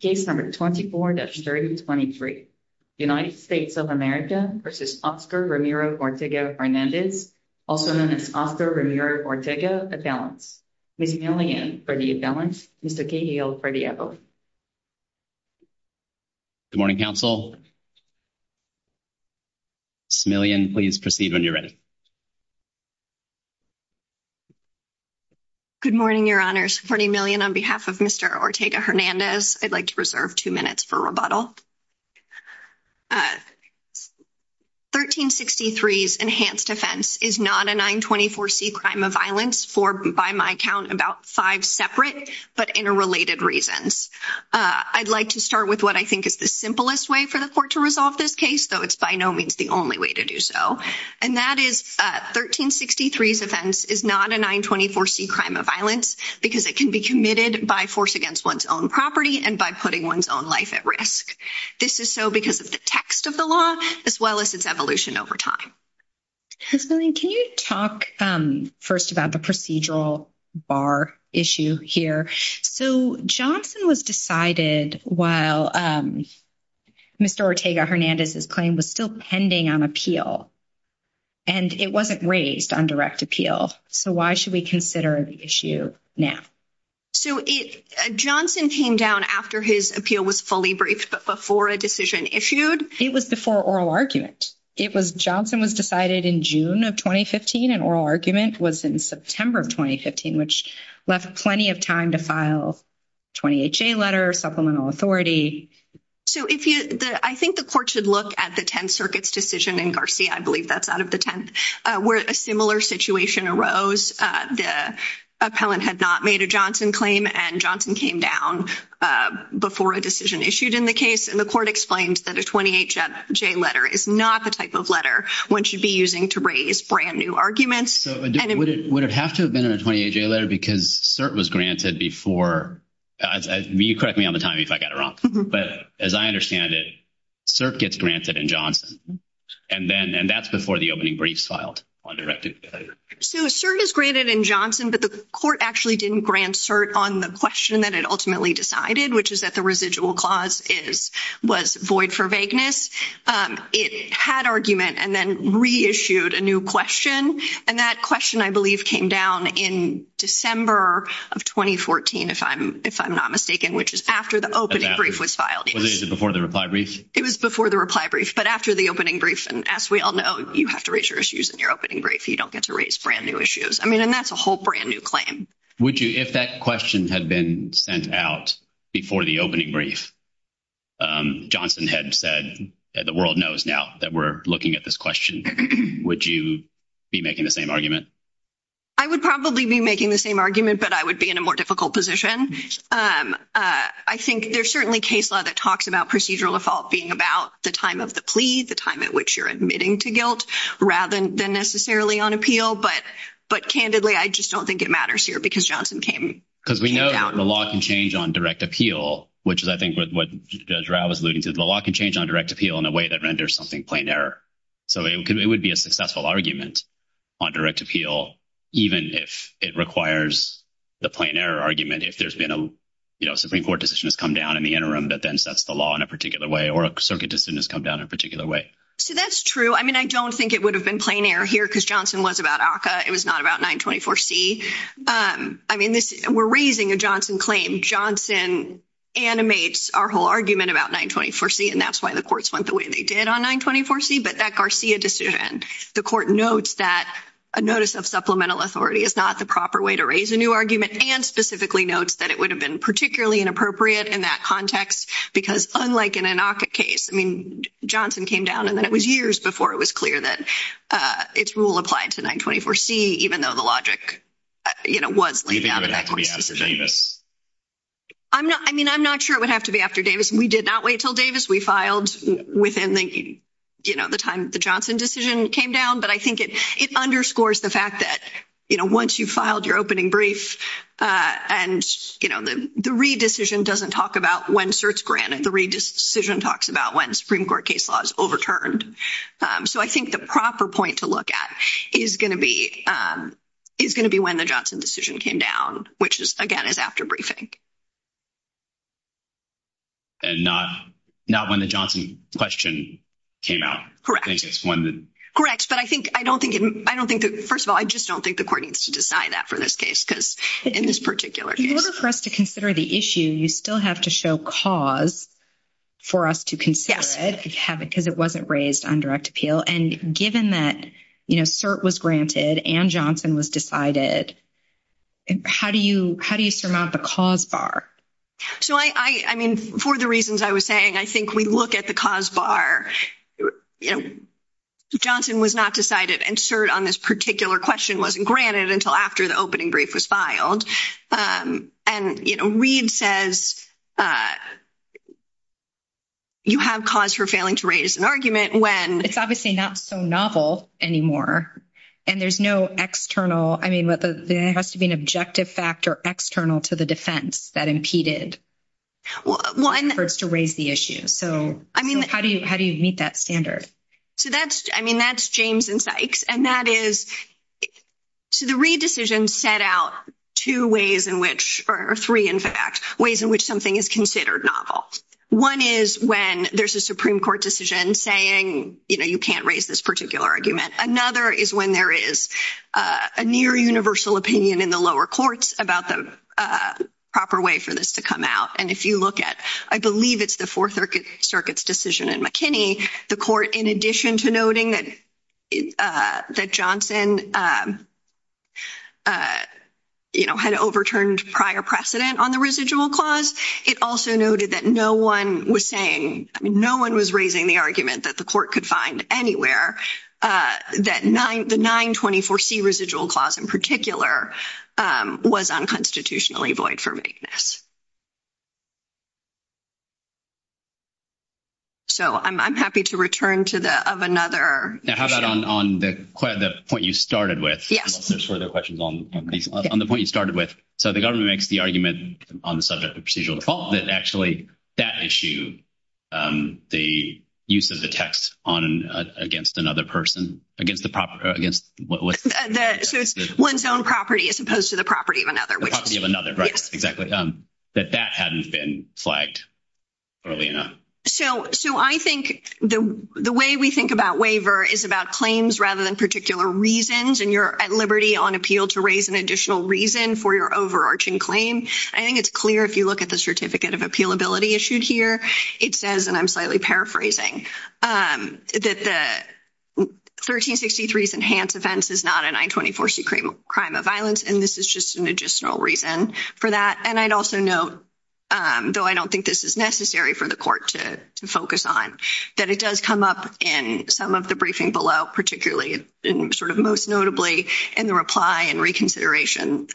Case number 24-23. United States of America v. Oscar Ramiro Ortega-Hernandez, also known as Oscar Ramiro Ortega-Azalez. Mr. Smillian for the Azalez, Mr. Cahill for the Evo. Good morning, counsel. Mr. Smillian, please proceed when you're ready. Good morning, your honors. For Smillian, on behalf of Mr. Ortega-Hernandez, I'd like to reserve two minutes for rebuttal. 1363's enhanced offense is not a 924c crime of violence for, by my count, about five separate but interrelated reasons. I'd like to start with what I think is the simplest way for the court to resolve this case, though it's by no means the only way to do so. And that is 1363's offense is not a 924c crime of violence because it can be committed by force against one's own property and by putting one's own life at risk. This is so because of the text of the law, as well as its evolution over time. Smillian, can you talk first about the procedural bar issue here? So, Johnson was decided while Mr. Ortega-Hernandez's claim was still pending on appeal. And it wasn't raised on direct appeal. So, why should we consider the issue now? So, Johnson came down after his appeal was fully briefed, but before a decision issued? It was before oral argument. Johnson was decided in June of 2015 and oral argument was in September of 2015, which left plenty of time to file 28J letter, supplemental authority. So, I think the court should look at the Tenth Circuit's decision in Garcia, I believe that's out of the Tenth, where a similar situation arose. The appellant had not made a Johnson claim and Johnson came down before a decision issued in the case. And the court explained that a 28J letter is not the type of letter one should be using to raise brand new arguments. So, would it have to have been a 28J letter because cert was granted before? You correct me all the time if I got it wrong. But as I understand it, cert gets granted in Johnson. And that's before the opening brief filed on direct appeal. So, cert is granted in Johnson, but the court actually didn't grant cert on the question that it ultimately decided, which is that the residual clause was void for vagueness. It had argument and then reissued a new question. And that question, I believe, came down in December of 2014, if I'm not mistaken, which is after the opening brief was filed. Was it before the reply brief? It was before the reply brief, but after the opening brief. And as we all know, you have to raise your issues in your opening brief so you don't get to raise brand new issues. I mean, and that's a whole brand new claim. Would you, if that question had been sent out before the opening brief, Johnson had said that the world knows now that we're looking at this question, would you be making the same argument? I would probably be making the same argument, but I would be in a more difficult position. I think there's certainly case law that talks about procedural default being about the time of the plea, the time at which you're admitting to guilt, rather than necessarily on appeal. But candidly, I just don't think it matters here because Johnson came down. Because we know the law can change on direct appeal, which is, I think, what Judge Rao was alluding to. The law can change on direct appeal in a way that renders something plain error. So it would be a successful argument on direct appeal, even if it requires the plain error argument. If there's been a Supreme Court decision that's come down in the interim that then sets the law in a particular way or a circuit decision that's come down in a particular way. So that's true. I mean, I don't think it would have been plain error here because Johnson was about ACCA. It was not about 924C. I mean, we're raising a Johnson claim. I think Johnson animates our whole argument about 924C. And that's why the courts went the way they did on 924C. But that Garcia decision, the court notes that a notice of supplemental authority is not the proper way to raise a new argument. And specifically notes that it would have been particularly inappropriate in that context. Because unlike in an ACCA case, I mean, Johnson came down. And then it was years before it was clear that its rule applied to 924C, even though the logic, you know, was laid down. I mean, I'm not sure it would have to be after Davis. We did not wait until Davis. We filed within, you know, the time the Johnson decision came down. But I think it underscores the fact that, you know, once you filed your opening brief and, you know, the re-decision doesn't talk about when certs granted. The re-decision talks about when Supreme Court case law is overturned. So I think the proper point to look at is going to be when the Johnson decision came down, which is, again, is after briefing. And not when the Johnson question came out. Correct. But I think, I don't think, first of all, I just don't think the court needs to decide that for this case because in this particular case. In order for us to consider the issue, you still have to show cause for us to consider it because it wasn't raised on direct appeal. And given that, you know, cert was granted and Johnson was decided, how do you, how do you surmount the cause bar? So I mean, for the reasons I was saying, I think we look at the cause bar. Johnson was not decided and cert on this particular question wasn't granted until after the opening brief was filed. And, you know, Reed says you have cause for failing to raise an argument when. It's obviously not so novel anymore. And there's no external, I mean, there has to be an objective factor external to the defense that impeded. Well, and. For us to raise the issue. I mean. How do you, how do you meet that standard? So that's, I mean, that's James and Sykes. And that is to the Reed decision set out two ways in which or three, in fact, ways in which something is considered novel. One is when there's a Supreme Court decision saying, you know, you can't raise this particular argument. Another is when there is a near universal opinion in the lower courts about the proper way for this to come out. And if you look at, I believe it's the 4th Circuit's decision in McKinney, the court, in addition to noting that Johnson. You know, had overturned prior precedent on the residual clause. It also noted that no one was saying, I mean, no one was raising the argument that the court could find anywhere that 924 C residual clause in particular was unconstitutionally void for maintenance. So, I'm happy to return to that of another. How about on the point you started with the questions on the point you started with? So, the government makes the argument on the subject of procedural default. That's actually that issue. The use of the text on against another person against the proper against what was one's own property as opposed to the property of another property of another. That that hadn't been flagged early enough. So, I think the way we think about waiver is about claims rather than particular reasons. And you're at liberty on appeal to raise an additional reason for your overarching claim. I think it's clear if you look at the certificate of appeal ability issued here, it says, and I'm slightly paraphrasing. That the 1363 enhanced defense is not a 924 C crime of violence. And this is just an additional reason for that. And I'd also note, though, I don't think this is necessary for the court to focus on that. It does come up in some of the briefing below, particularly in sort of most notably in the reply and reconsideration.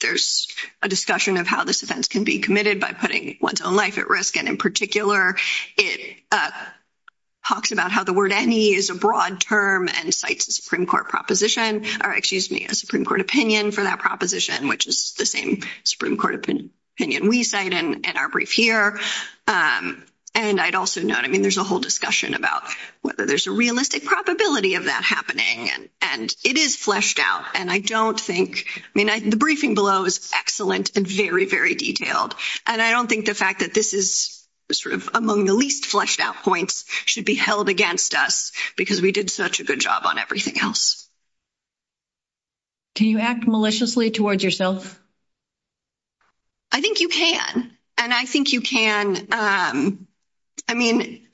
There's a discussion of how this defense can be committed by putting one's own life at risk. And in particular, it talks about how the word any is a broad term and cites a Supreme Court proposition. Or excuse me, a Supreme Court opinion for that proposition, which is the same Supreme Court opinion we cite in our brief here. And I'd also note, I mean, there's a whole discussion about whether there's a realistic probability of that happening. And it is fleshed out. And I don't think, I mean, the briefing below is excellent and very, very detailed. And I don't think the fact that this is sort of among the least fleshed out points should be held against us. Because we did such a good job on everything else. Do you act maliciously towards yourself? I think you can. And I think you can, I mean,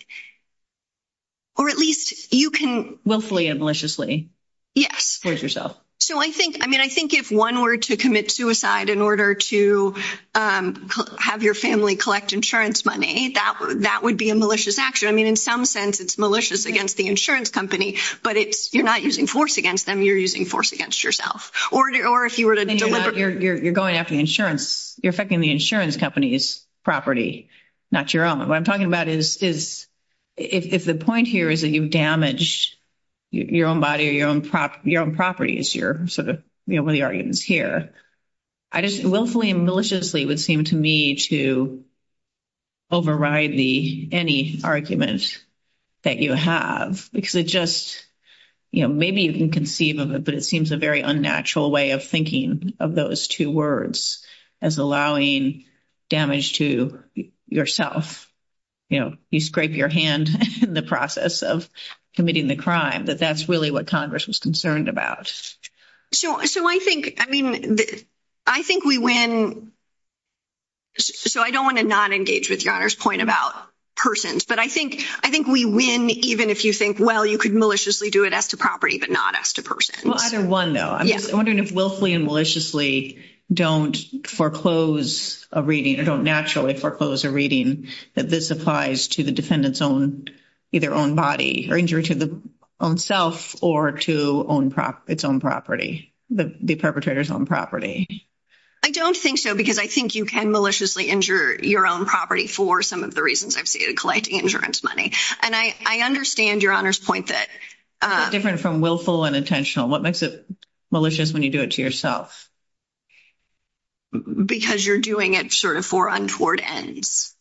or at least you can willfully and maliciously, yes, towards yourself. So I think, I mean, I think if one were to commit suicide in order to have your family collect insurance money, that would be a malicious action. I mean, in some sense, it's malicious against the insurance company. But you're not using force against them. You're using force against yourself. Or if you were to deliver. You're going after insurance. You're affecting the insurance company's property, not your own. What I'm talking about is if the point here is that you've damaged your own body or your own properties, your sort of, you know, the arguments here. I just, willfully and maliciously would seem to me to override the, any argument that you have. Because it just, you know, maybe you can conceive of it, but it seems a very unnatural way of thinking of those two words as allowing damage to yourself. You know, you scrape your hand in the process of committing the crime. But that's really what Congress was concerned about. So I think, I mean, I think we win. So I don't want to not engage with your Honor's point about persons. But I think we win even if you think, well, you could maliciously do it as to property but not as to person. Well, either one, though. I'm wondering if willfully and maliciously don't foreclose a reading or don't naturally foreclose a reading that this applies to the defendant's own, either own body or injury to the own self or to its own property. The perpetrator's own property. I don't think so because I think you can maliciously injure your own property for some of the reasons I've stated, collecting insurance money. And I understand your Honor's point that. It's different from willful and intentional. What makes it malicious when you do it to yourself? Because you're doing it sort of for untoward ends.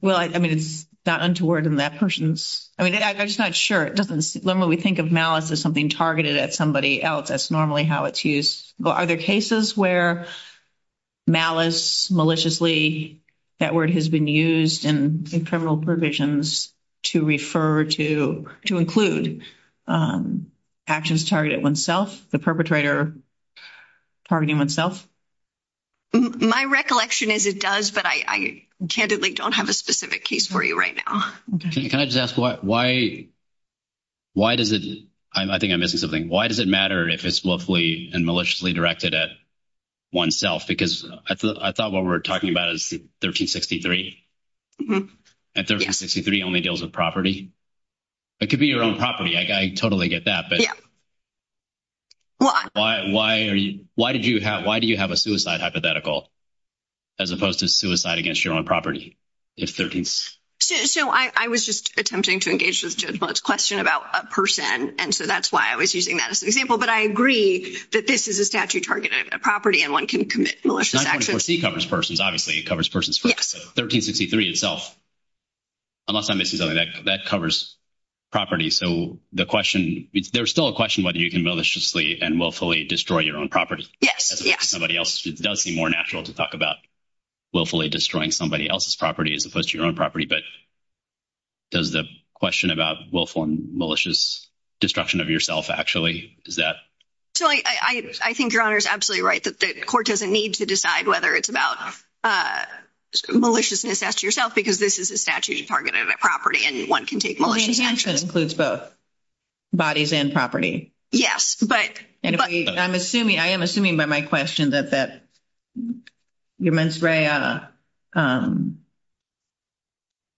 Well, I mean, it's not untoward in that person's. I mean, I'm just not sure. It doesn't. Remember, we think of malice as something targeted at somebody else. That's normally how it's used. Are there cases where malice, maliciously, that word has been used in criminal provisions to refer to, to include actions targeted at oneself, the perpetrator targeting oneself? My recollection is it does, but I candidly don't have a specific case for you right now. Can I just ask why? Why does it? I think I missed something. Why does it matter if it's willfully and maliciously directed at oneself? Because I thought what we're talking about is 1363. And 1363 only deals with property. It could be your own property. I totally get that. Yeah. Why? Why? Why did you have? Why do you have a suicide hypothetical as opposed to suicide against your own property? So, I was just attempting to engage this question about a person, and so that's why I was using that as an example. But I agree that this is a statute-targeted property, and one can commit malicious actions. 944C covers persons, obviously. It covers persons. Yes. So, 1363 itself, unless I'm missing something, that covers property. So, the question, there's still a question whether you can maliciously and willfully destroy your own property. Yes. Yes. I mean, it does seem more natural to talk about willfully destroying somebody else's property as opposed to your own property. But does the question about willful and malicious destruction of yourself actually, is that? Julie, I think Your Honor is absolutely right. The court doesn't need to decide whether it's about maliciousness against yourself, because this is a statute-targeted property, and one can take malicious actions. Well, the intention includes both bodies and property. Yes. I am assuming by my question that your mens rea,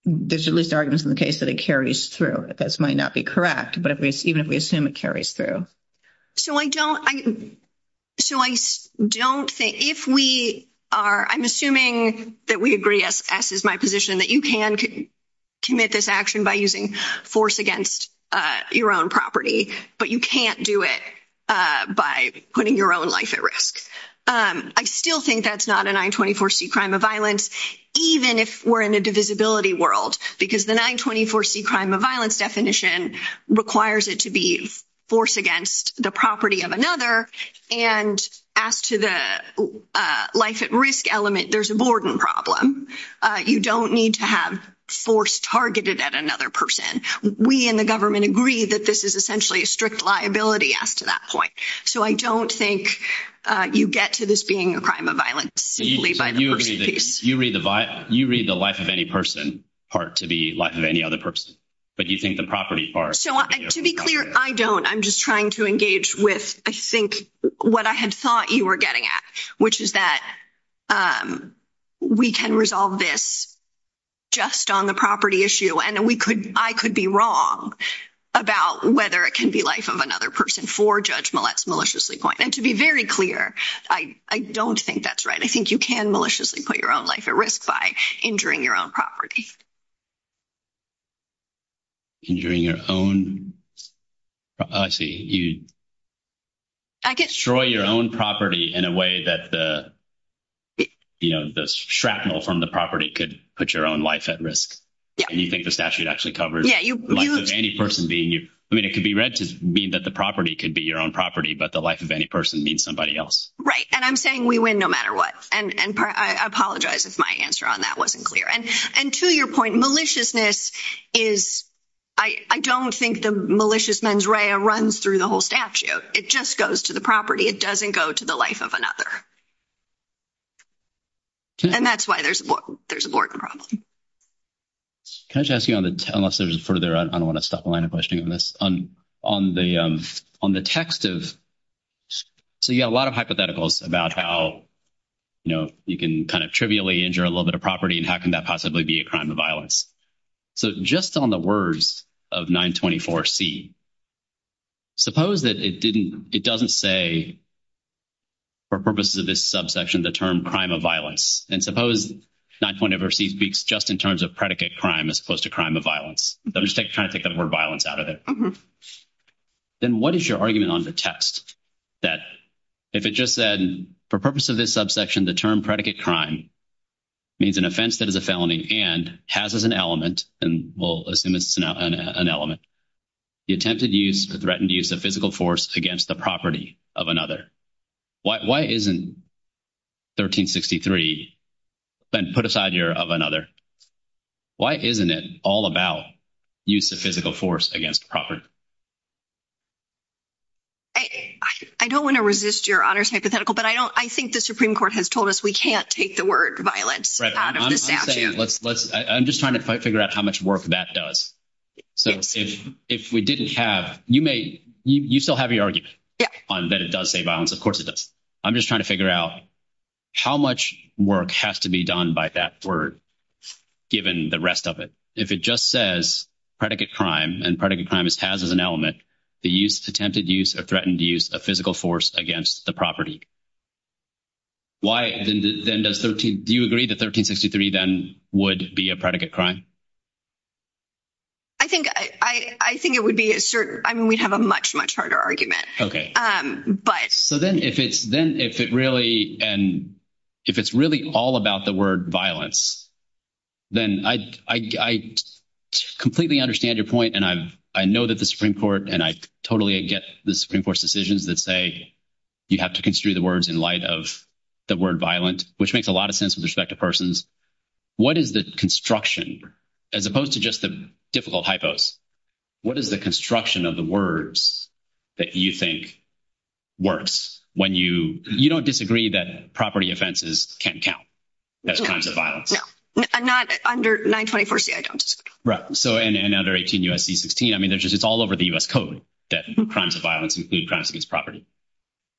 there's at least arguments in the case that it carries through. This might not be correct, but even if we assume it carries through. So, I don't think, if we are, I'm assuming that we agree, as is my position, that you can commit this action by using force against your own property, but you can't do it by putting your own life at risk. I still think that's not an I-24C crime of violence, even if we're in the divisibility world, because the I-24C crime of violence definition requires it to be force against the property of another, and as to the life-at-risk element, there's a Borden problem. You don't need to have force targeted at another person. We in the government agree that this is essentially a strict liability after that point. So, I don't think you get to this being a crime of violence. You read the life of any person part to be the life of any other person, but you think the property part. So, to be clear, I don't. I'm just trying to engage with, I think, what I had thought you were getting at, which is that we can resolve this just on the property issue, and I could be wrong about whether it can be life of another person for Judge Millett's maliciously point, and to be very clear, I don't think that's right. I think you can maliciously put your own life at risk by injuring your own property. Injuring your own? I see. You destroy your own property in a way that the shrapnel from the property could put your own life at risk, and you think the statute actually covers the life of any person being. I mean, it could be read to mean that the property can be your own property, but the life of any person means somebody else. Right, and I'm saying we win no matter what, and I apologize if my answer on that wasn't clear. And to your point, maliciousness is, I don't think the malicious mens rea runs through the whole statute. It just goes to the property. It doesn't go to the life of another, and that's why there's a board problem. Can I just ask you on the, unless there's further, I don't want to stop the line of questioning on this, on the text of, so you've got a lot of hypotheticals about how, you know, you can kind of trivially injure a little bit of property, and how can that possibly be a crime of violence? So just on the words of 924C, suppose that it didn't, it doesn't say, for purposes of this subsection, the term crime of violence. And suppose 924C speaks just in terms of predicate crime as opposed to crime of violence. I'm just trying to think of the word violence out of it. Then what is your argument on the text that if it just said, for purposes of this subsection, the term predicate crime means an offense that is a felony and has as an element, and we'll assume it's an element, the attempted use, the threatened use of physical force against the property of another. Why isn't 1363 put aside here of another? Why isn't it all about use of physical force against property? I don't want to resist your honest hypothetical, but I think the Supreme Court has told us we can't take the word violence out of this statute. I'm just trying to figure out how much work that does. So if we didn't have, you may, you still have your argument on that it does say violence. Of course it does. I'm just trying to figure out how much work has to be done by that word, given the rest of it. If it just says predicate crime and predicate crime has as an element, the use, attempted use, or threatened use of physical force against the property. Do you agree that 1363 then would be a predicate crime? I think it would be a certain, I mean, we have a much, much harder argument. So then if it's really all about the word violence, then I completely understand your point. And I know that the Supreme Court and I totally get the Supreme Court's decisions that say you have to construe the words in light of the word violent, which makes a lot of sense with respect to persons. What is this construction, as opposed to just a difficult hypothesis? What is the construction of the words that you think works when you, you don't disagree that property offenses can count as crimes of violence? No, not under 924C, I don't. Right, so and under 18 U.S.C. 16, I mean, it's all over the U.S. Code that crimes of violence include crimes against property.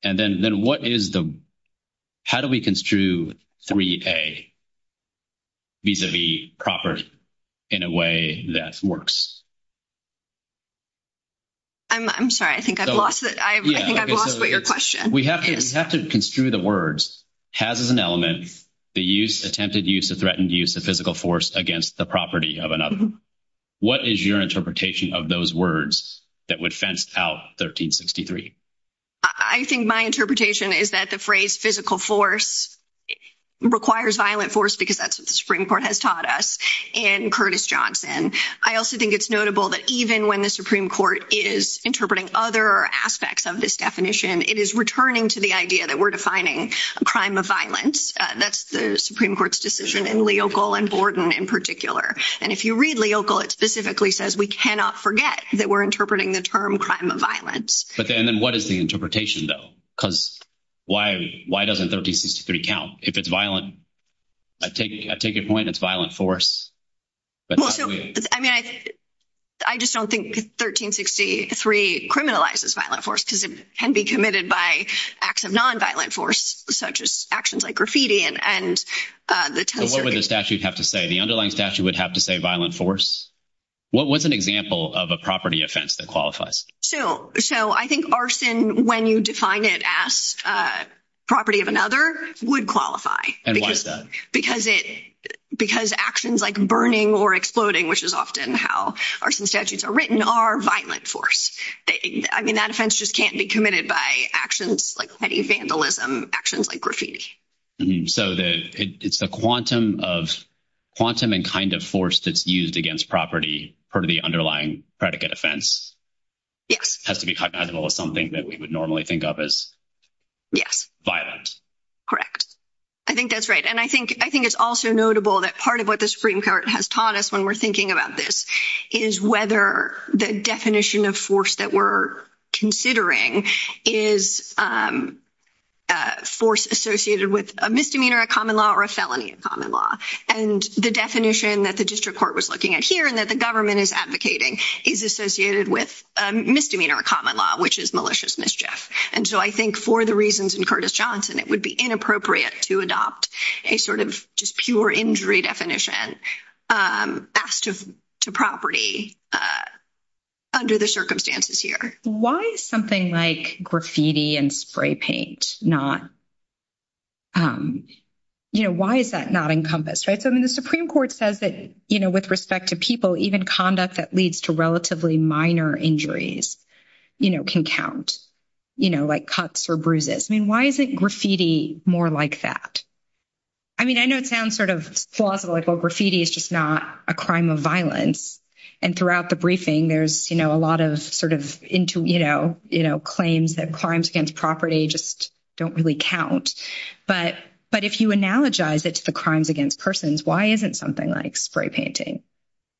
And then what is the, how do we construe 3A vis-a-vis property in a way that works? I'm sorry, I think I've lost it. I think I've lost your question. We have to construe the words, has as an element, the use, attempted use, or threatened use of physical force against the property of another. What is your interpretation of those words that would fence out 1363? I think my interpretation is that the phrase physical force requires violent force because that's what the Supreme Court has taught us in Curtis Johnson. I also think it's notable that even when the Supreme Court is interpreting other aspects of this definition, it is returning to the idea that we're defining a crime of violence. That's the Supreme Court's decision in Leocal and Borden in particular. And if you read Leocal, it specifically says we cannot forget that we're interpreting the term crime of violence. And then what is the interpretation, though? Because why doesn't 1363 count? If it's violent, I take your point, it's violent force. I mean, I just don't think 1363 criminalizes violent force because it can be committed by acts of nonviolent force, such as actions like graffiti. What would the statute have to say? The underlying statute would have to say violent force. What was an example of a property offense that qualifies? So I think arson, when you define it as property of another, would qualify. And why is that? Because actions like burning or exploding, which is often how arson statutes are written, are violent force. I mean, that offense just can't be committed by actions like petty vandalism, actions like graffiti. So it's the quantum and kind of force that's used against property per the underlying predicate offense. Yes. It has to be compatible with something that we would normally think of as violence. Correct. I think that's right. And I think it's also notable that part of what the Supreme Court has taught us when we're thinking about this is whether the definition of force that we're considering is force associated with a misdemeanor, a common law, or a felony of common law. And the definition that the district court was looking at here and that the government is advocating is associated with misdemeanor or common law, which is malicious mischief. And so I think for the reasons in Curtis Johnson, it would be inappropriate to adopt a sort of just pure injury definition as to property under the circumstances here. Why is something like graffiti and spray paint not, you know, why is that not encompassed? I mean, the Supreme Court says that, you know, with respect to people, even conduct that leads to relatively minor injuries, you know, can count, you know, like cuts or bruises. I mean, why isn't graffiti more like that? I mean, I know it sounds sort of plausible, like, well, graffiti is just not a crime of violence. And throughout the briefing, there's, you know, a lot of sort of, you know, claims that crimes against property just don't really count. But if you analogize it to crimes against persons, why isn't something like spray painting?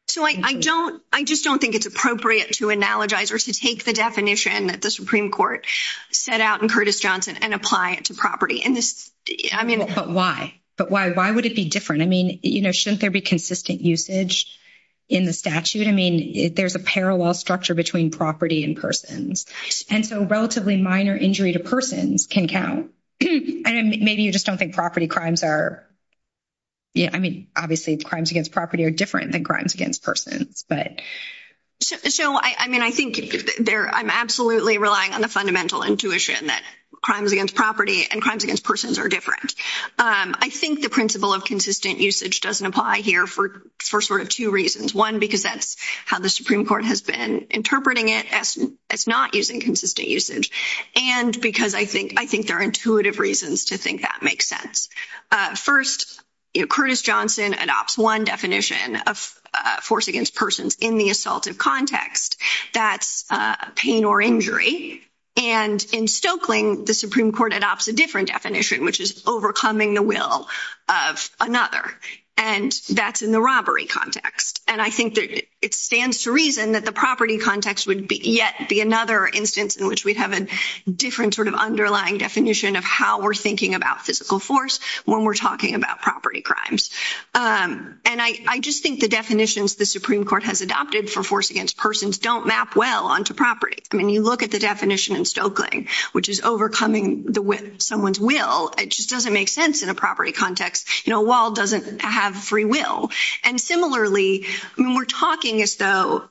So I don't, I just don't think it's appropriate to analogize or to take the definition that the Supreme Court set out in Curtis Johnson and apply it to property. But why? But why? Why would it be different? I mean, you know, shouldn't there be consistent usage in the statute? I mean, there's a parallel structure between property and persons. And so relatively minor injury to persons can count. And maybe you just don't think property crimes are, you know, I mean, obviously crimes against property are different than crimes against persons. So, I mean, I think I'm absolutely relying on the fundamental intuition that crimes against property and crimes against persons are different. I think the principle of consistent usage doesn't apply here for sort of two reasons. One, because that's how the Supreme Court has been interpreting it as not using consistent usage. And because I think there are intuitive reasons to think that makes sense. First, you know, Curtis Johnson adopts one definition of force against persons in the assaultive context. That's pain or injury. And in Stoeckling, the Supreme Court adopts a different definition, which is overcoming the will of another. And that's in the robbery context. And I think it stands to reason that the property context would yet be another instance in which we have a different sort of underlying definition of how we're thinking about physical force when we're talking about property crimes. And I just think the definitions the Supreme Court has adopted for force against persons don't map well onto property. I mean, you look at the definition in Stoeckling, which is overcoming someone's will. It just doesn't make sense in a property context. You know, a wall doesn't have free will. And similarly, when we're talking, though,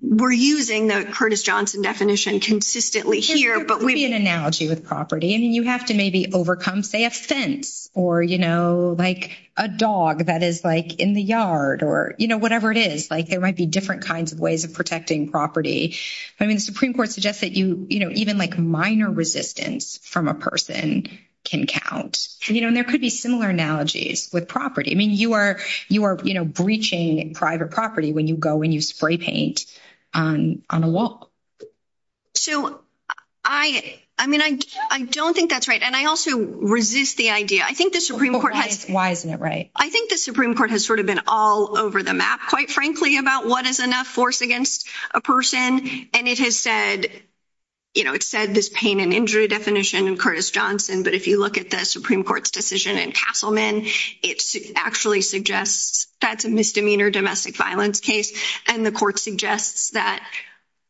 we're using the Curtis Johnson definition consistently here. But we have an analogy with property. I mean, you have to maybe overcome, say, a fence or, you know, like a dog that is, like, in the yard or, you know, whatever it is. Like, there might be different kinds of ways of protecting property. I mean, the Supreme Court suggests that you, you know, even like minor resistance from a person can count. And, you know, there could be similar analogies with property. I mean, you are, you know, breaching private property when you go and you spray paint on a wall. So, I mean, I don't think that's right. And I also resist the idea. I think the Supreme Court has. Why isn't it right? I think the Supreme Court has sort of been all over the map, quite frankly, about what is enough force against a person. And it has said, you know, it said this pain and injury definition in Curtis Johnson. But if you look at the Supreme Court's decision in Castleman, it actually suggests that's a misdemeanor domestic violence case. And the court suggests that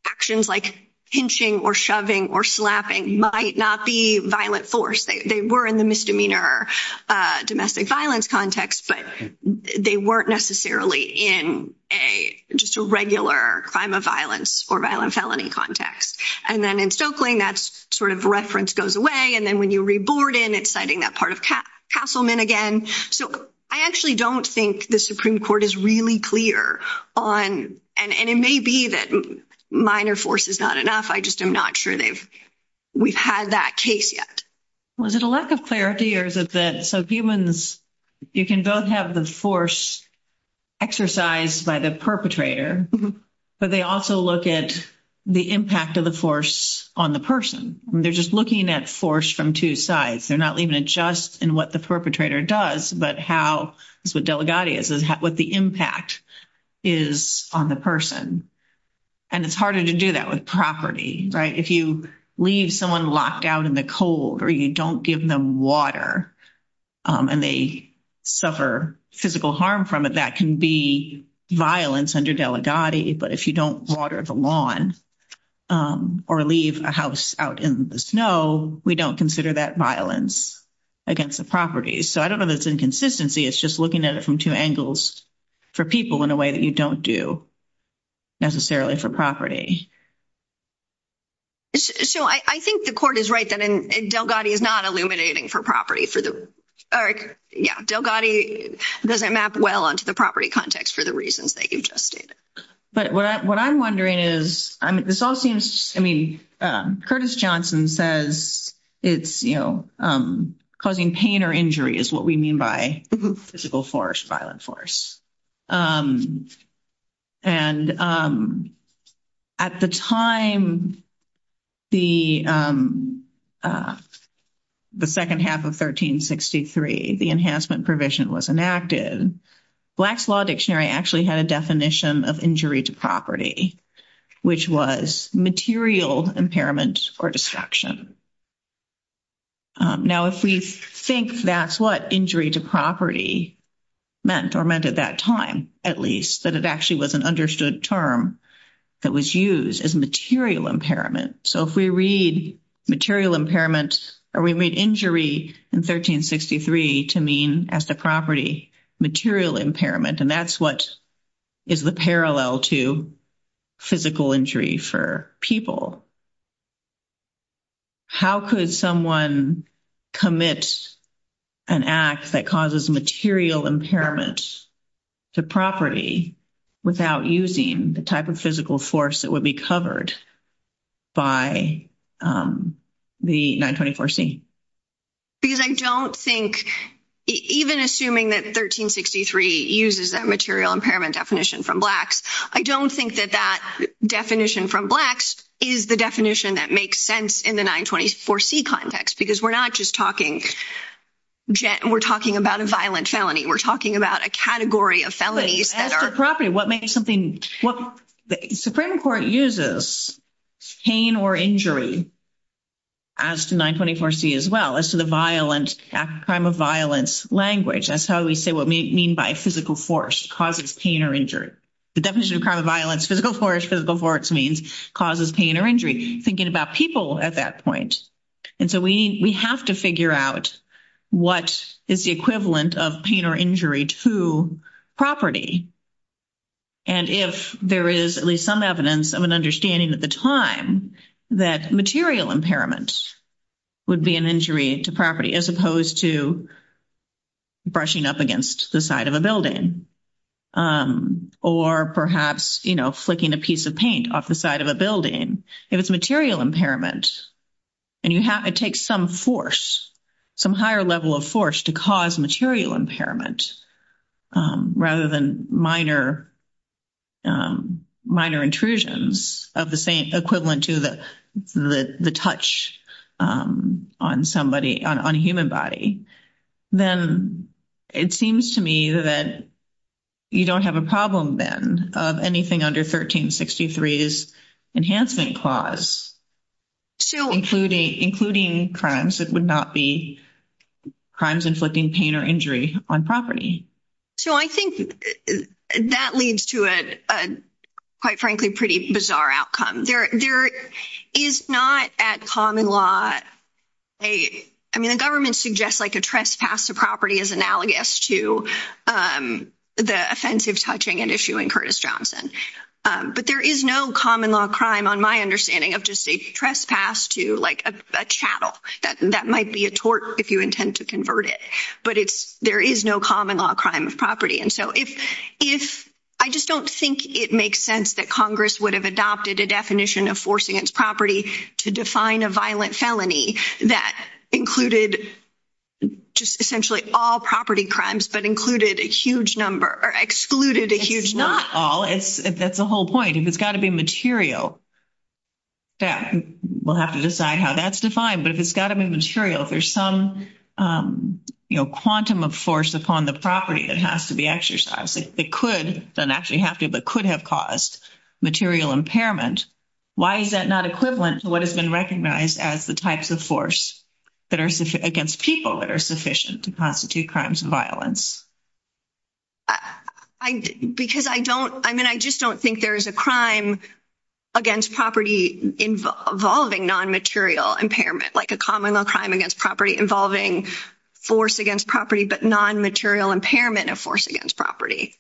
actions like pinching or shoving or slapping might not be violent force. They were in the misdemeanor domestic violence context, but they weren't necessarily in a just a regular crime of violence or violent felony context. And then in Stokeling, that sort of reference goes away. And then when you reboard in, it's citing that part of Castleman again. So, I actually don't think the Supreme Court is really clear on. And it may be that minor force is not enough. I just am not sure we've had that case yet. Well, is it a lack of clarity or is it that so humans, you can both have the force exercised by the perpetrator. But they also look at the impact of the force on the person. They're just looking at force from two sides. They're not leaving it just in what the perpetrator does, but how, what the impact is on the person. And it's harder to do that with property, right? If you leave someone locked out in the cold, or you don't give them water, and they suffer physical harm from it, that can be violence under Delegati. But if you don't water the lawn or leave a house out in the snow, we don't consider that violence against the property. So, I don't know if it's inconsistency. It's just looking at it from two angles for people in a way that you don't do necessarily for property. So, I think the court is right that Delegati is not illuminating for property. Yeah, Delegati doesn't map well onto the property context for the reasons that you just stated. But what I'm wondering is, this all seems to me, Curtis Johnson says it's, you know, causing pain or injury is what we mean by physical force, violent force. And at the time, the second half of 1363, the Enhancement Provision was enacted. Black's Law Dictionary actually had a definition of injury to property, which was material impairment or destruction. Now, if we think that's what injury to property meant or meant at that time, at least, that it actually was an understood term that was used as material impairment. So, if we read material impairment or we read injury in 1363 to mean as the property material impairment, and that's what is the parallel to physical injury for people. How could someone commit an act that causes material impairment to property without using the type of physical force that would be covered by the 924C? Because I don't think, even assuming that 1363 uses that material impairment definition from Blacks, I don't think that that definition from Blacks is the definition that makes sense in the 924C context. Because we're not just talking, we're talking about a violent felony. We're talking about a category of felonies that are- The Supreme Court uses pain or injury as 924C as well, as to the violent crime of violence language. That's how we say what we mean by a physical force causes pain or injury. The definition of crime of violence, physical force, physical force means causes pain or injury, thinking about people at that point. And so, we have to figure out what is the equivalent of pain or injury to property. And if there is at least some evidence of an understanding at the time that material impairment would be an injury to property, as opposed to brushing up against the side of a building, or perhaps, you know, flicking a piece of paint off the side of a building. If it's material impairment, and you have to take some force, some higher level of force to cause material impairment, rather than minor intrusions of the equivalent to the touch on somebody, on a human body, then it seems to me that you don't have a problem, then, of anything under 1363's Enhancement Clause, including crimes that would not be crimes inflicting pain or injury on property. So, I think that leads to a, quite frankly, pretty bizarre outcome. There is not at common law a, I mean, the government suggests like a trespass of property is analogous to the offensive touching and issuing Curtis Johnson. But there is no common law crime on my understanding of just a trespass to like a chattel. That might be a tort if you intend to convert it. But it's, there is no common law crime of property. And so, if, I just don't think it makes sense that Congress would have adopted a definition of force against property to define a violent felony that included just essentially all property crimes, but included a huge number or excluded a huge number. That's the whole point. It's got to be material. We'll have to decide how that's defined, but it's got to be material. There's some quantum of force upon the property that has to be exercised. It could then actually have to, but could have caused material impairment. Why is that not equivalent to what has been recognized as the types of force that are against people that are sufficient to constitute crimes and violence? Because I don't, I mean, I just don't think there's a crime against property involving non-material impairment, like a common law crime against property involving force against property, but non-material impairment of force against property.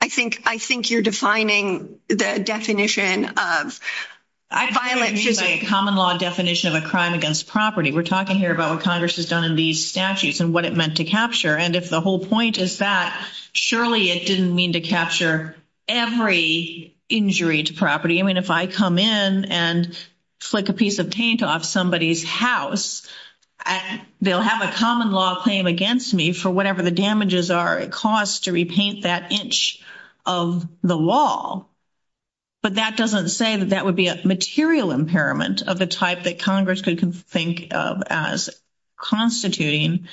I think, I think you're defining the definition of violent. Violent means a common law definition of a crime against property. We're talking here about what Congress has done in these statutes and what it meant to capture. And if the whole point is that, surely it didn't mean to capture every injury to property. I mean, if I come in and flick a piece of paint off somebody's house, they'll have a common law claim against me for whatever the damages are it costs to repaint that inch of the wall. But that doesn't say that that would be a material impairment of the type that Congress could think of as constituting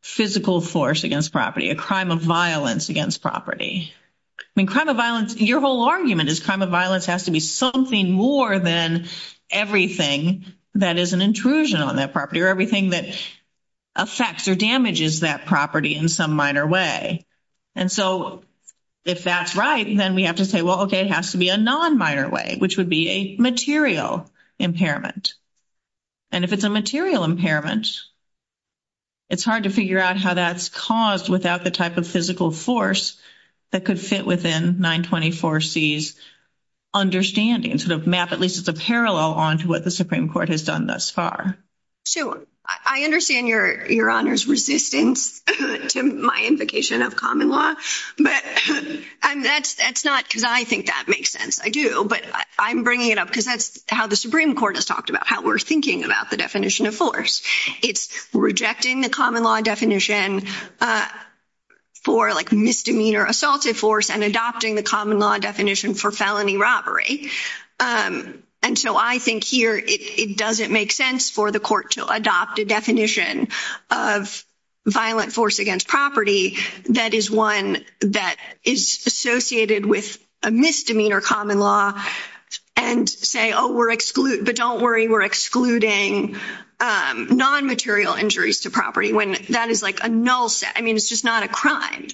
physical force against property, a crime of violence against property. I mean, crime of violence, your whole argument is crime of violence has to be something more than everything that is an intrusion on that property or everything that affects or damages that property in some minor way. And so, if that's right, then we have to say, well, okay, it has to be a non-minor way, which would be a material impairment. And if it's a material impairment, it's hard to figure out how that's caused without the type of physical force that could fit within 924C's understanding, sort of map at least as a parallel onto what the Supreme Court has done thus far. So, I understand your honor's resistance to my invocation of common law, but that's not because I think that makes sense. I do, but I'm bringing it up because that's how the Supreme Court has talked about how we're thinking about the definition of force. It's rejecting the common law definition for misdemeanor assaulted force and adopting the common law definition for felony robbery. And so, I think here it doesn't make sense for the court to adopt a definition of violent force against property that is one that is associated with a misdemeanor common law and say, oh, but don't worry, we're excluding non-material injuries to property when that is like a null set. I mean, it's just not a crime.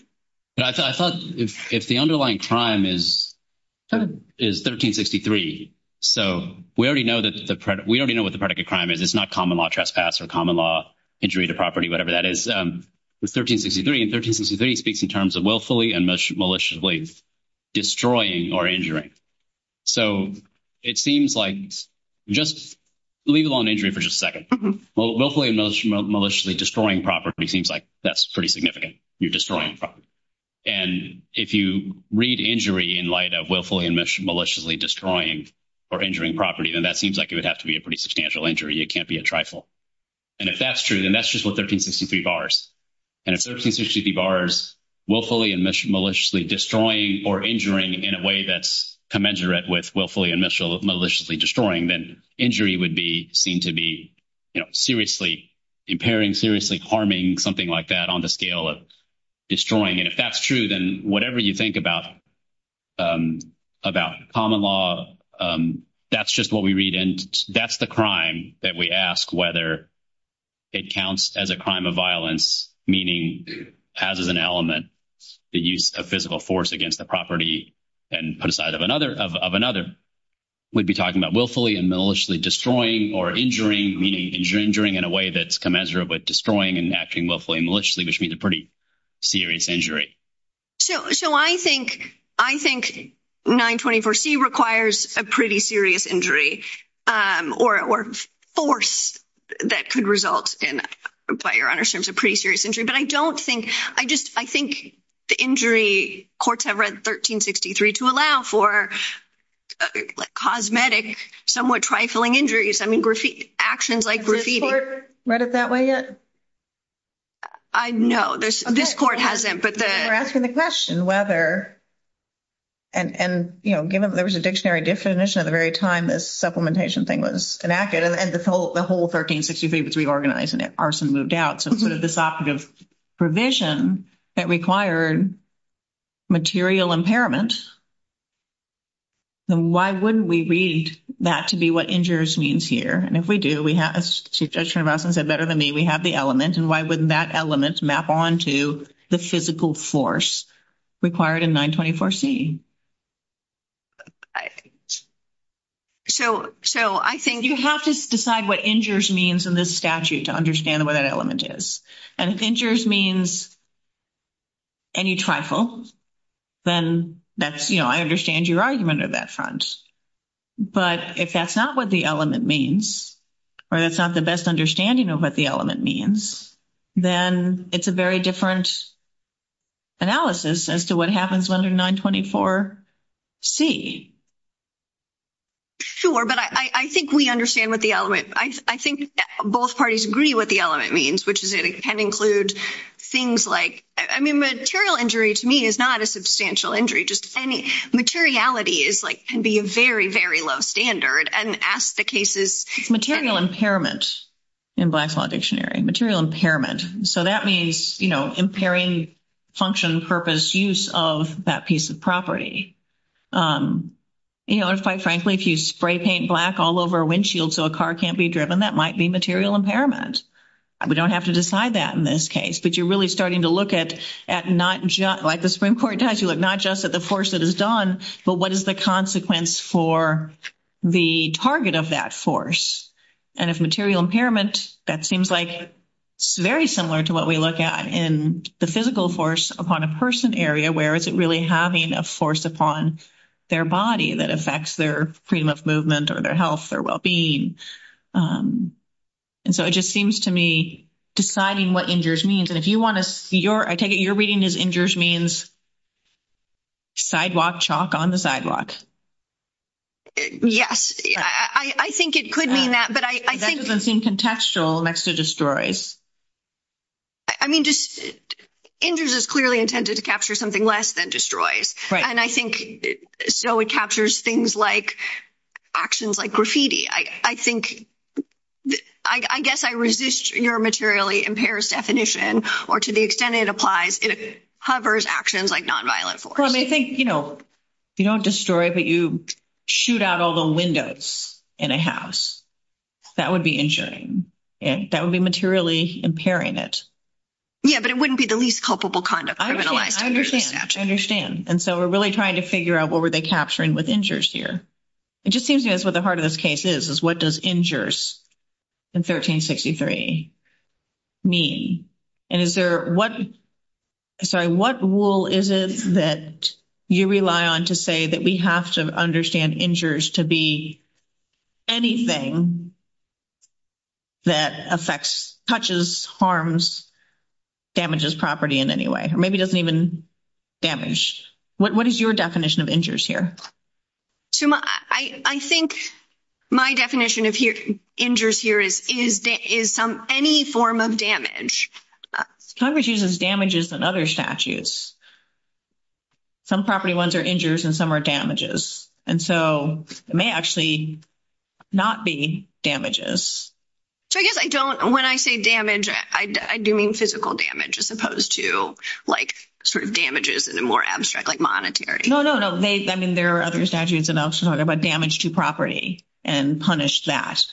I thought if the underlying crime is 1363, so we already know what the predicate crime is. It's not common law trespass or common law injury to property, whatever that is. It's 1363, and 1363 speaks in terms of willfully and maliciously destroying or injuring. So, it seems like just leave it on injury for just a second. Willfully and maliciously destroying property seems like that's pretty significant. You're destroying property. And if you read injury in light of willfully and maliciously destroying or injuring property, then that seems like it would have to be a pretty substantial injury. It can't be a trifle. And if that's true, then that's just what 1363 bars. And if 1363 bars willfully and maliciously destroying or injuring in a way that's commensurate with willfully and maliciously destroying, then injury would be seen to be seriously impairing, seriously harming, something like that on the scale of destroying. And if that's true, then whatever you think about common law, that's just what we read. And that's the crime that we ask whether it counts as a crime of violence, meaning as an element, the use of physical force against the property. And on the side of another, we'd be talking about willfully and maliciously destroying or injuring, meaning injuring in a way that's commensurate with destroying and acting willfully and maliciously, which means a pretty serious injury. So, I think 924C requires a pretty serious injury or force that could result in a pretty serious injury. But I don't think, I think the injury courts have read 1363 to allow for cosmetic, somewhat trifling injuries. I mean, actions like graffiti. Has the court read it that way yet? I know. This court hasn't, but they're asking the question whether, and, you know, given that there was a dictionary definition at the very time this supplementation thing was enacted, and the whole 1363 was reorganized and arson moved out. So, what if this option of provision that required material impairments? Why wouldn't we read that to be what injures means here? And if we do, we have a suggestion, Russell said better than me, we have the element. And why wouldn't that element map onto the physical force required in 924C? So, I think you have to decide what injures means in this statute to understand what that element is. And if injures means any trifle, then that's, you know, I understand your argument on that front. But if that's not what the element means, or that's not the best understanding of what the element means, then it's a very different analysis as to what happens under 924C. Sure, but I think we understand what the element, I think both parties agree what the element means, which is it can include things like, I mean, material injury to me is not a substantial injury. Materiality is like, can be a very, very low standard and ask the cases. Material impairment in Blacklaw Dictionary, material impairment. So, that means, you know, impairing function, purpose, use of that piece of property. You know, and quite frankly, if you spray paint black all over a windshield so a car can't be driven, that might be material impairment. We don't have to decide that in this case, but you're really starting to look at not just, like the Supreme Court does, you look not just at the force that is done, but what is the consequence for the target of that force? And if material impairment, that seems like very similar to what we look at in the physical force upon a person area, where is it really having a force upon their body that affects their freedom of movement or their health, their well-being? And so, it just seems to me deciding what injures means. And if you want to see your, I take it you're reading this injures means sidewalk chalk on the sidewalks. Yes, I think it could mean that, but I think. That doesn't seem contextual next to destroys. I mean, just injures is clearly intended to capture something less than destroys. Right. And I think so it captures things like actions like graffiti. I think, I guess I resist your materially impairs definition, or to the extent it applies, it hovers actions like nonviolent force. Well, they think, you know, you don't destroy, but you shoot out all the windows in a house. That would be injuring. That would be materially impairing it. Yeah, but it wouldn't be the least culpable conduct. I understand. I understand. And so, we're really trying to figure out what were they capturing with injures here. It just seems to me that's what the heart of this case is, is what does injures in 1363 mean? And is there, what, sorry, what rule is it that you rely on to say that we have to understand injures to be anything that affects, touches, harms, damages property in any way? Or maybe doesn't even damage. What is your definition of injures here? So, I think my definition of injures here is any form of damage. Some of it uses damages and other statutes. Some property ones are injures and some are damages. And so, it may actually not be damages. So, I guess I don't, when I say damage, I do mean physical damage as opposed to, like, sort of damages in a more abstract, like monetary. No, no, no. I mean, there are other statutes that also talk about damage to property and punish that.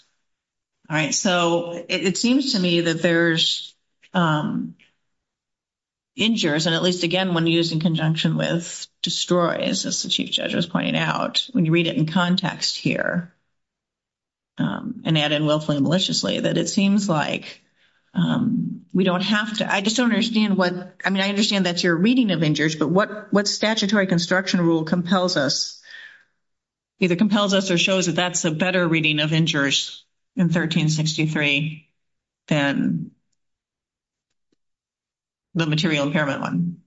All right. So, it seems to me that there's injures, and at least, again, when used in conjunction with destroys, as the Chief Judge was pointing out. When you read it in context here, and added willfully and maliciously, that it seems like we don't have to, I just don't understand what, I mean, I understand that you're reading of injures. But what statutory construction rule compels us, either compels us or shows that that's a better reading of injures in 1363 than the material impairment one?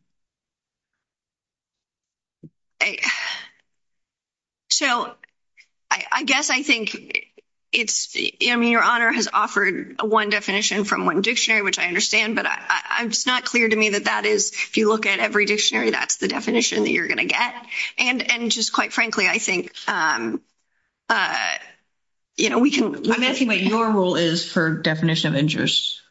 So, I guess I think it's, I mean, your Honor has offered one definition from one dictionary, which I understand. But it's not clear to me that that is, if you look at every dictionary, that's the definition that you're going to get. And just quite frankly, I think, you know, we can. I'm asking what your rule is for definition of injures.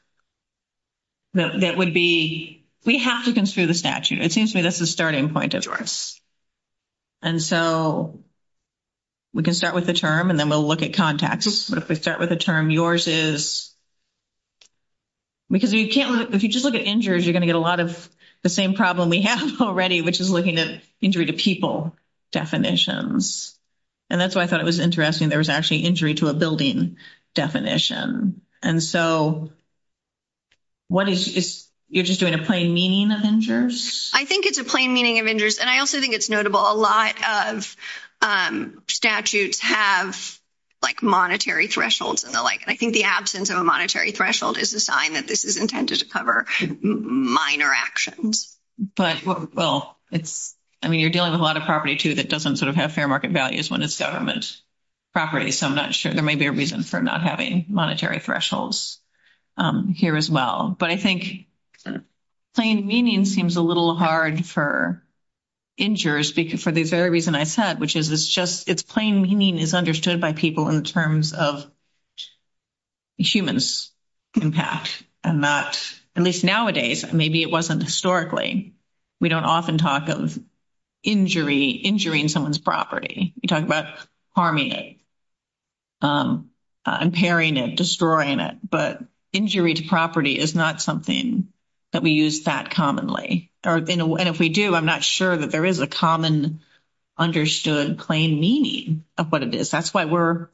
That would be, we have to consider the statute. It seems to me that's the starting point of yours. And so, we can start with the term, and then we'll look at context. If we start with the term, yours is, because you can't, if you just look at injures, you're going to get a lot of the same problem we have already, which is looking at injury to people definitions. And that's why I thought it was interesting. There was actually injury to a building definition. And so, what is, you're just doing a plain meaning of injures? I think it's a plain meaning of injures. And I also think it's notable. A lot of statutes have, like, monetary thresholds and the like. And I think the absence of a monetary threshold is a sign that this is intended to cover minor actions. But, well, it's, I mean, you're dealing with a lot of property, too, that doesn't sort of have fair market values when it's government property. So, I'm not sure. There may be a reason for not having monetary thresholds here as well. But I think plain meaning seems a little hard for injures, for the very reason I said, which is it's just, it's plain meaning is understood by people in terms of humans' impact. And that, at least nowadays, maybe it wasn't historically, we don't often talk of injury, injuring someone's property. We talk about harming it, impairing it, destroying it. But injury to property is not something that we use that commonly. And if we do, I'm not sure that there is a common, understood, plain meaning of what it is. That's why we're,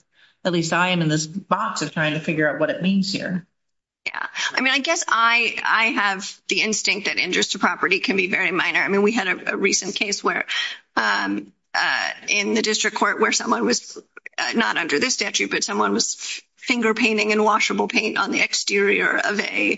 at least I am in this box of trying to figure out what it means here. Yeah. I mean, I guess I have the instinct that injures to property can be very minor. I mean, we had a recent case where, in the district court, where someone was, not under this statute, but someone was finger painting in washable paint on the exterior of a,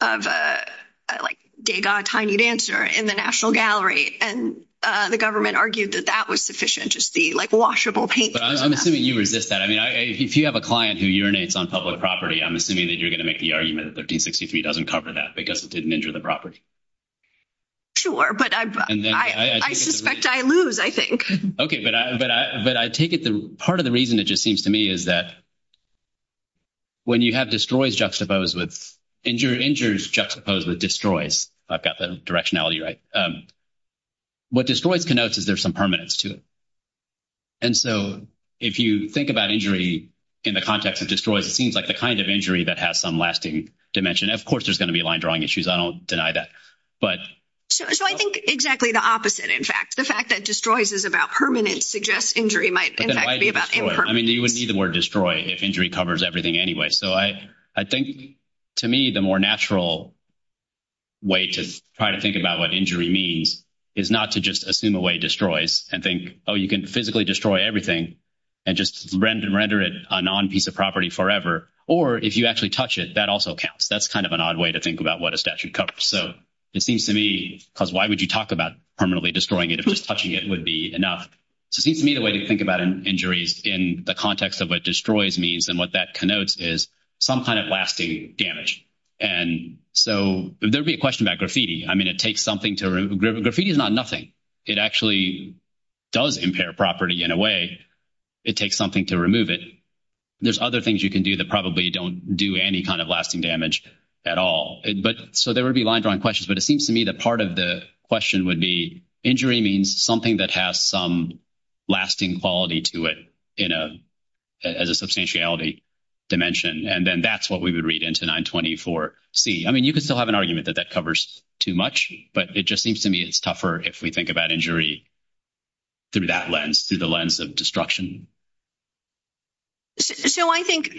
like, Degas tiny dancer in the National Gallery. And the government argued that that was sufficient to see, like, washable paint. I'm assuming you resist that. I mean, if you have a client who urinates on public property, I'm assuming that you're going to make the argument that 1363 doesn't cover that because it didn't injure the property. Sure. But I suspect I lose, I think. Okay. But I take it, part of the reason it just seems to me is that when you have destroys juxtaposed with, injures juxtaposed with destroys. I've got the directionality right. What destroys connotes is there's some permanence to it. And so, if you think about injury in the context of destroys, it seems like the kind of injury that has some lasting dimension. Of course, there's going to be line drawing issues. I don't deny that. So, I think exactly the opposite, in fact. The fact that destroys is about permanence suggests injury might, in fact, be about impermanence. I mean, you wouldn't need the word destroy if injury covers everything anyway. So, I think, to me, the more natural way to try to think about what injury means is not to just assume away destroys and think, oh, you can physically destroy everything and just render it a non-piece of property forever. Or, if you actually touch it, that also counts. That's kind of an odd way to think about what a statute covers. So, it seems to me, because why would you talk about permanently destroying it if just touching it would be enough? So, it seems to me the way to think about injuries in the context of what destroys means and what that connotes is some kind of lasting damage. And so, there would be a question about graffiti. I mean, it takes something to remove. Graffiti is not nothing. It actually does impair property in a way. It takes something to remove it. There's other things you can do that probably don't do any kind of lasting damage at all. So, there would be lines around questions, but it seems to me that part of the question would be injury means something that has some lasting quality to it as a substantiality dimension. And then that's what we would read into 924C. I mean, you could still have an argument that that covers too much, but it just seems to me it's tougher if we think about injury through that lens, through the lens of destruction. So, I think,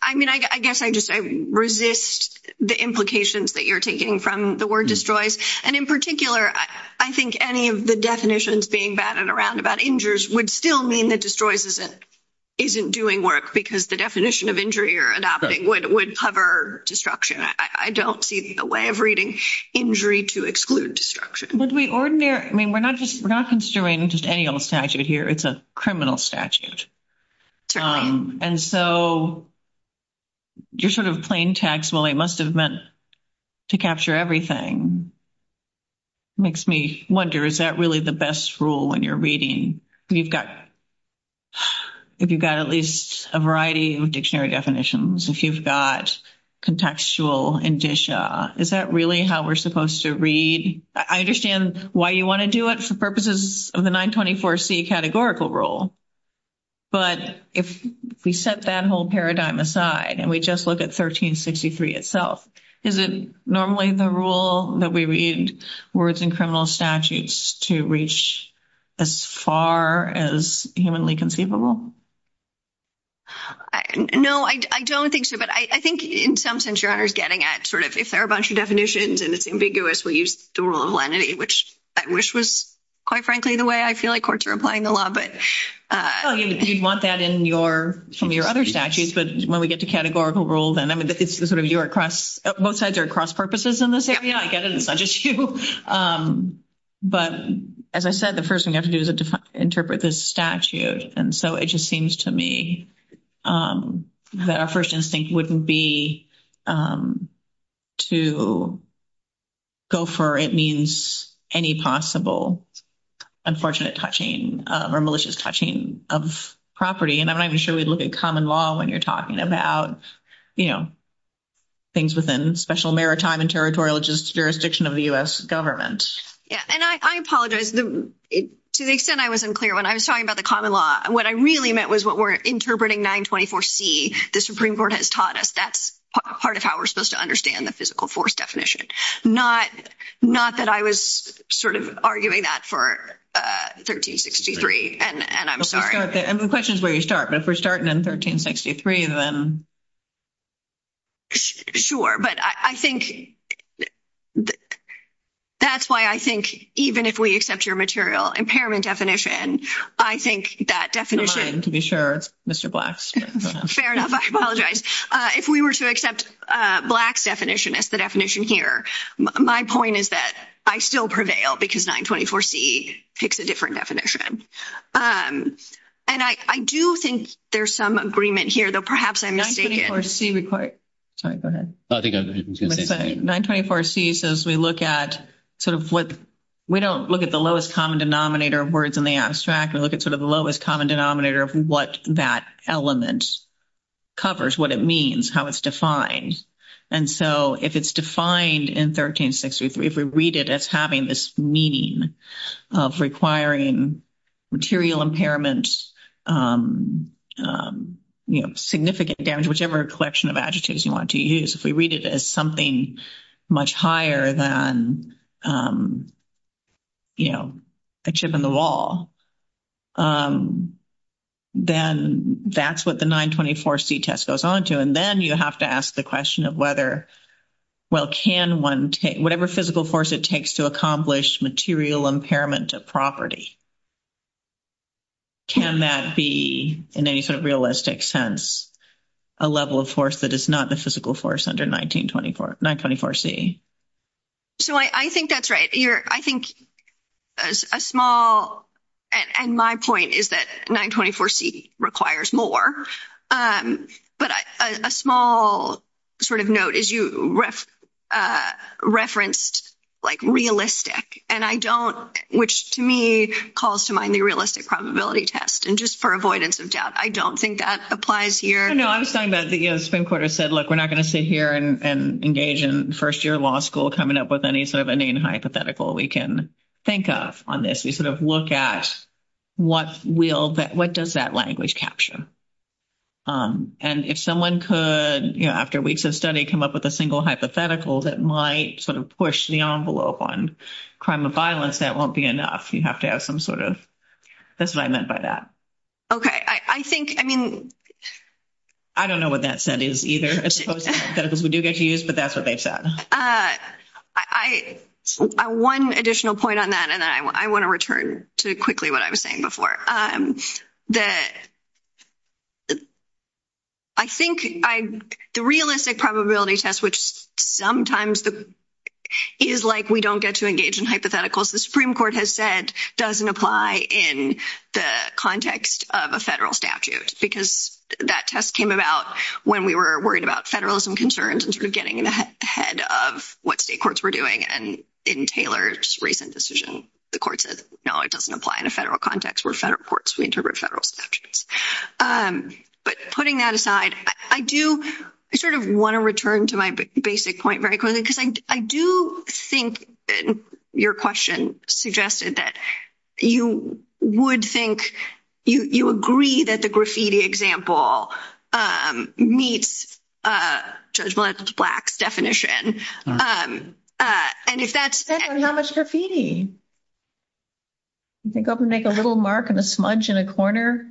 I mean, I guess I just resist the implications that you're taking from the word destroys. And in particular, I think any of the definitions being batted around about injuries would still mean that destroys isn't doing work because the definition of injury or adopting would cover destruction. I don't see the way of reading injury to exclude destruction. I mean, we're not considering just any old statute here. It's a criminal statute. And so, you're sort of plain text, well, it must have meant to capture everything. Makes me wonder, is that really the best rule when you're reading? If you've got at least a variety of dictionary definitions, if you've got contextual indicia, is that really how we're supposed to read? I understand why you want to do it for purposes of the 924C categorical rule. But if we set that whole paradigm aside and we just look at 1363 itself, is it normally the rule that we read where it's in criminal statutes to reach as far as humanly conceivable? No, I don't think so. But I think in some sense, Your Honor is getting at sort of if there are a bunch of definitions and it's ambiguous, we'll use the rule of lenity, which was quite frankly the way I feel like courts are applying the law. You'd want that in some of your other statutes. But when we get to categorical rules, both sides are cross purposes in this area. I get it. It's not just you. But as I said, the first thing you have to do is interpret the statute. And so it just seems to me that our first instinct wouldn't be to go for it means any possible unfortunate touching or malicious touching of property. And I'm not even sure we'd look at common law when you're talking about, you know, things within special maritime and territorial jurisdiction of the U.S. government. And I apologize. To the extent I was unclear when I was talking about the common law, what I really meant was what we're interpreting 924C. The Supreme Court has taught us that's part of how we're supposed to understand the physical force definition. Not that I was sort of arguing that for 1363. And I'm sorry. The question is where you start. But if we're starting in 1363, then. Sure. But I think that's why I think even if we accept your material impairment definition, I think that definition. To be sure, Mr. Black. Fair enough. I apologize. If we were to accept Black's definition as the definition here, my point is that I still prevail because 924C takes a different definition. And I do think there's some agreement here, though perhaps I'm mistaken. 924C requires. Sorry. Go ahead. 924C says we look at sort of what we don't look at the lowest common denominator of words in the abstract. We look at sort of the lowest common denominator of what that element covers, what it means, how it's defined. And so if it's defined in 1363, if we read it as having this meaning of requiring material impairment, you know, significant damage, whichever collection of adjectives you want to use. If we read it as something much higher than, you know, a chip in the wall, then that's what the 924C test goes on to. And then you have to ask the question of whether, well, can one take, whatever physical force it takes to accomplish material impairment of property, can that be in any sort of realistic sense a level of force that is not the physical force under 924C? So I think that's right. I think a small, and my point is that 924C requires more, but a small sort of note is you referenced like realistic, and I don't, which to me calls to mind the realistic probability test. And just for avoidance of doubt, I don't think that applies here. No, I'm saying that the spin quarter said, look, we're not going to sit here and engage in first year law school coming up with any sort of a name hypothetical we can think of on this. We sort of look at what will, what does that language capture? And if someone could, you know, after weeks of study, come up with a single hypothetical that might sort of push the envelope on crime or violence, that won't be enough. You have to have some sort of, that's what I meant by that. Okay, I think, I mean. I don't know what that said is either, as opposed to hypotheticals we do get to use, but that's what they said. I, one additional point on that, and I want to return to quickly what I was saying before. The, I think the realistic probability test, which sometimes is like, we don't get to engage in hypotheticals. The Supreme Court has said doesn't apply in the context of a federal statute, because that test came about when we were worried about federalism concerns and sort of getting ahead of what state courts were doing. And in Taylor's recent decision, the court said, no, it doesn't apply in a federal context where federal courts interpret federal statutes. But putting that aside, I do sort of want to return to my basic point very quickly. Because I do think your question suggested that you would think you agree that the graffiti example meets Judge Black's definition. And if that's. There's not much graffiti. You think I can make a little mark and a smudge in a corner?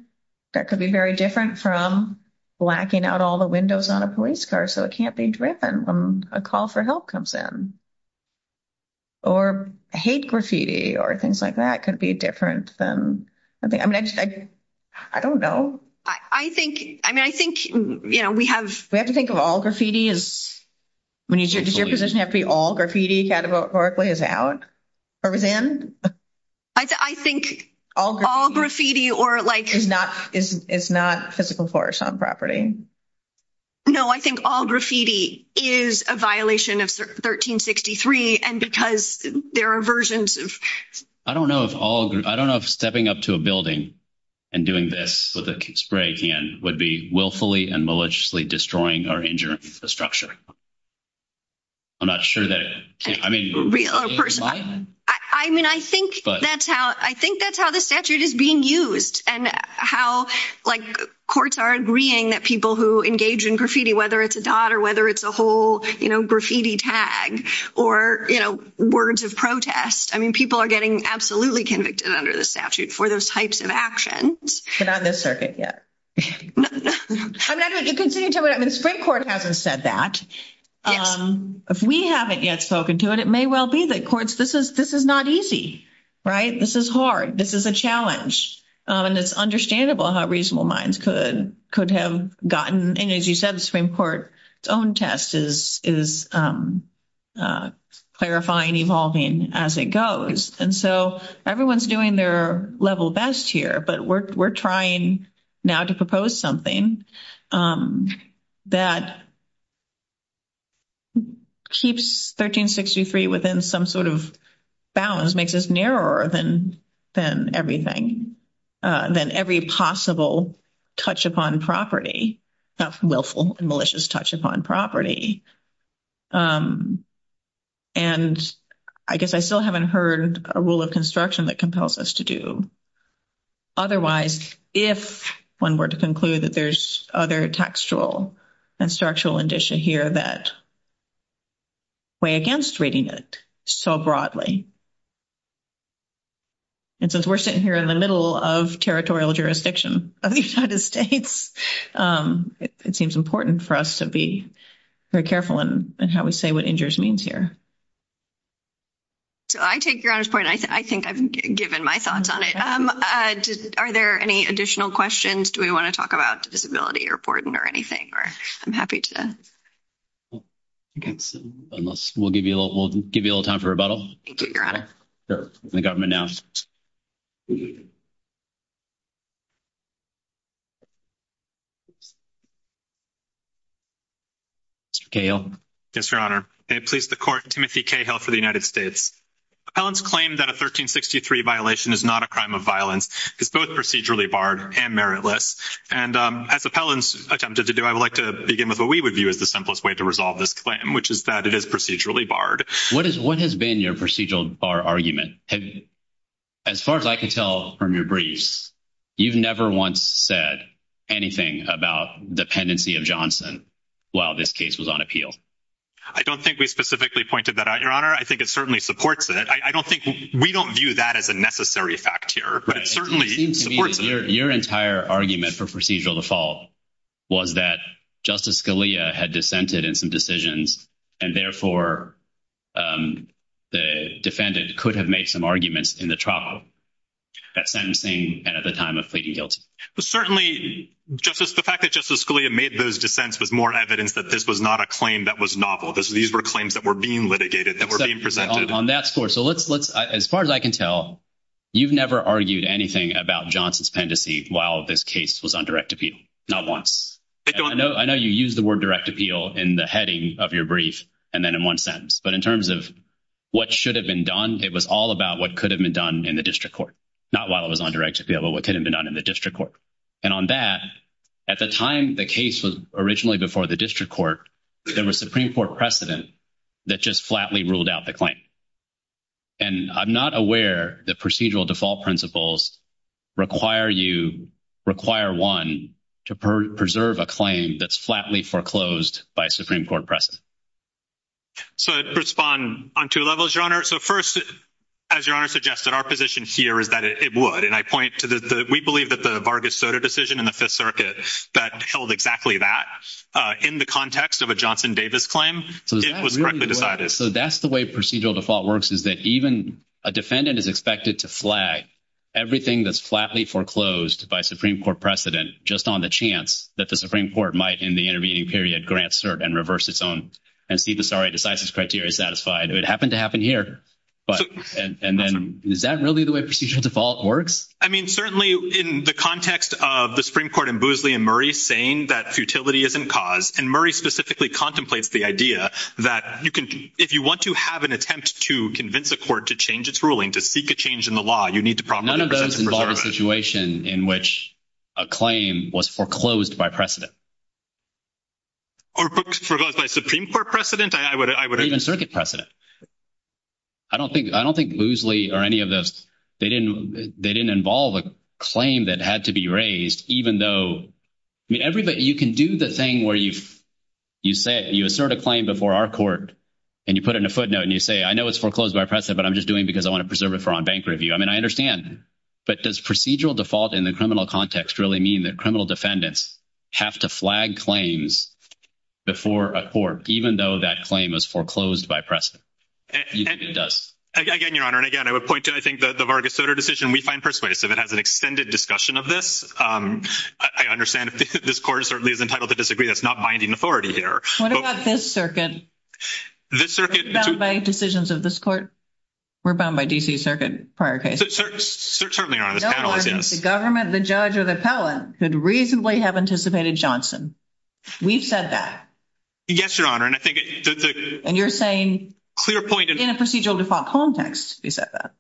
That could be very different from blacking out all the windows on a police car, so it can't be driven when a call for help comes in. Or hate graffiti or things like that could be different than, I mean, I just, I don't know. I think, I mean, I think, you know, we have, we have to think of all graffiti is. Does your position have to be all graffiti categorically as Alex? I think all graffiti or like, it's not physical force on property. No, I think all graffiti is a violation of 1363 and because there are versions of. I don't know if all I don't know if stepping up to a building and doing this with a spray can would be willfully and maliciously destroying our structure. I'm not sure that I mean, I mean, I think that's how I think that's how the statute is being used and how courts are agreeing that people who engage in graffiti, whether it's a daughter, whether it's a whole graffiti tag or words of protest. I mean, people are getting absolutely convicted under the statute for those types of actions. Not in this circuit yet. I'm going to continue talking about the Supreme Court hasn't said that if we haven't yet spoken to it, it may well be that courts. This is this is not easy, right? This is hard. This is a challenge. And it's understandable how reasonable minds could could have gotten. And as you said, the Supreme Court own test is, is clarifying evolving as it goes. And so everyone's doing their level best here, but we're, we're trying now to propose something that. That. Keeps 1363 within some sort of balance makes us narrower than than everything than every possible touch upon property, willful and malicious touch upon property. And I guess I still haven't heard a rule of construction that compels us to do. Otherwise, if one were to conclude that there's other textual and structural addition here that. Way against reading it so broadly. And since we're sitting here in the middle of territorial jurisdiction of the United States, it seems important for us to be very careful and how we say what injures means here. So, I take your point. I think I've given my thoughts on it. Are there any additional questions? Do we want to talk about disability reporting or anything? Or I'm happy to. Okay, unless we'll give you a little, we'll give you a little time for rebuttal. The government now. Yes, your honor, please the court committee for the United States claims that a 1363 violation is not a crime of violence. It's both procedurally barred and meritless and attempted to do. I would like to begin with what we would view as the simplest way to resolve this claim, which is that it is procedurally barred. What is what has been your procedural argument? As far as I can tell from your briefs, you've never once said anything about dependency of Johnson while this case was on appeal. I don't think we specifically pointed that out your honor. I think it certainly supports it. I don't think we don't view that as a necessary fact here, but it certainly. Your entire argument for procedural default. Was that justice Scalia had dissented in some decisions and therefore the defendants could have made some arguments in the trial. That same thing, and at the time of pleading guilty, but certainly justice, the fact that justice Scalia made those defense with more evidence that this was not a claim that was novel. These were claims that were being litigated that were on that score. So, let's as far as I can tell, you've never argued anything about Johnson's pendency while this case was on direct appeal. I know you use the word direct appeal in the heading of your brief and then in one sentence, but in terms of what should have been done, it was all about what could have been done in the district court. Not while it was on direct appeal, but what could have been done in the district court and on that at the time the case was originally before the district court. There was Supreme Court precedent that just flatly ruled out the claim. And I'm not aware that procedural default principles require you require 1 to preserve a claim that's flatly foreclosed by Supreme Court precedent. So, to respond on 2 levels, your honor. So, 1st, as your honor suggested, our position here is that it would, and I point to the, we believe that the Vargas Soda decision in the 5th circuit that held exactly that in the context of a Johnson Davis claim. So, that's the way procedural default works is that even a defendant is expected to flag everything that's flatly foreclosed by Supreme Court precedent just on the chance that the Supreme Court might, in the intervening period, grant cert and reverse its own. And Steve, I'm sorry, I decided this criteria is satisfied. It happened to happen here. But, and then, is that really the way procedural default works? I mean, certainly, in the context of the Supreme Court and Boosley and Murray saying that futility is in cause, and Murray specifically contemplates the idea that you can, if you want to have an attempt to convince the court to change its ruling, to seek a change in the law, you need to probably. None of those involve a situation in which a claim was foreclosed by precedent. Or foreclosed by Supreme Court precedent? Even circuit precedent. I don't think Boosley or any of those, they didn't involve a claim that had to be raised, even though, I mean, everybody, you can do the thing where you assert a claim before our court, and you put in a footnote, and you say, I know it's foreclosed by precedent, but I'm just doing it because I want to preserve it for on-bank review. I mean, I understand. But does procedural default in the criminal context really mean that criminal defendants have to flag claims before a court, even though that claim was foreclosed by precedent? Again, Your Honor, and again, I would point to, I think, the Vargas Soter decision. We find persuasive. It has an extended discussion of this. I understand that this court certainly is entitled to disagree. That's not binding authority here. What about this circuit? This circuit. It's bound by decisions of this court. We're bound by D.C. circuit prior case. Certainly not. The government, the judge, or the appellant could reasonably have anticipated Johnson. We've said that. Yes, Your Honor. And you're saying, in a procedural default context, we've said that.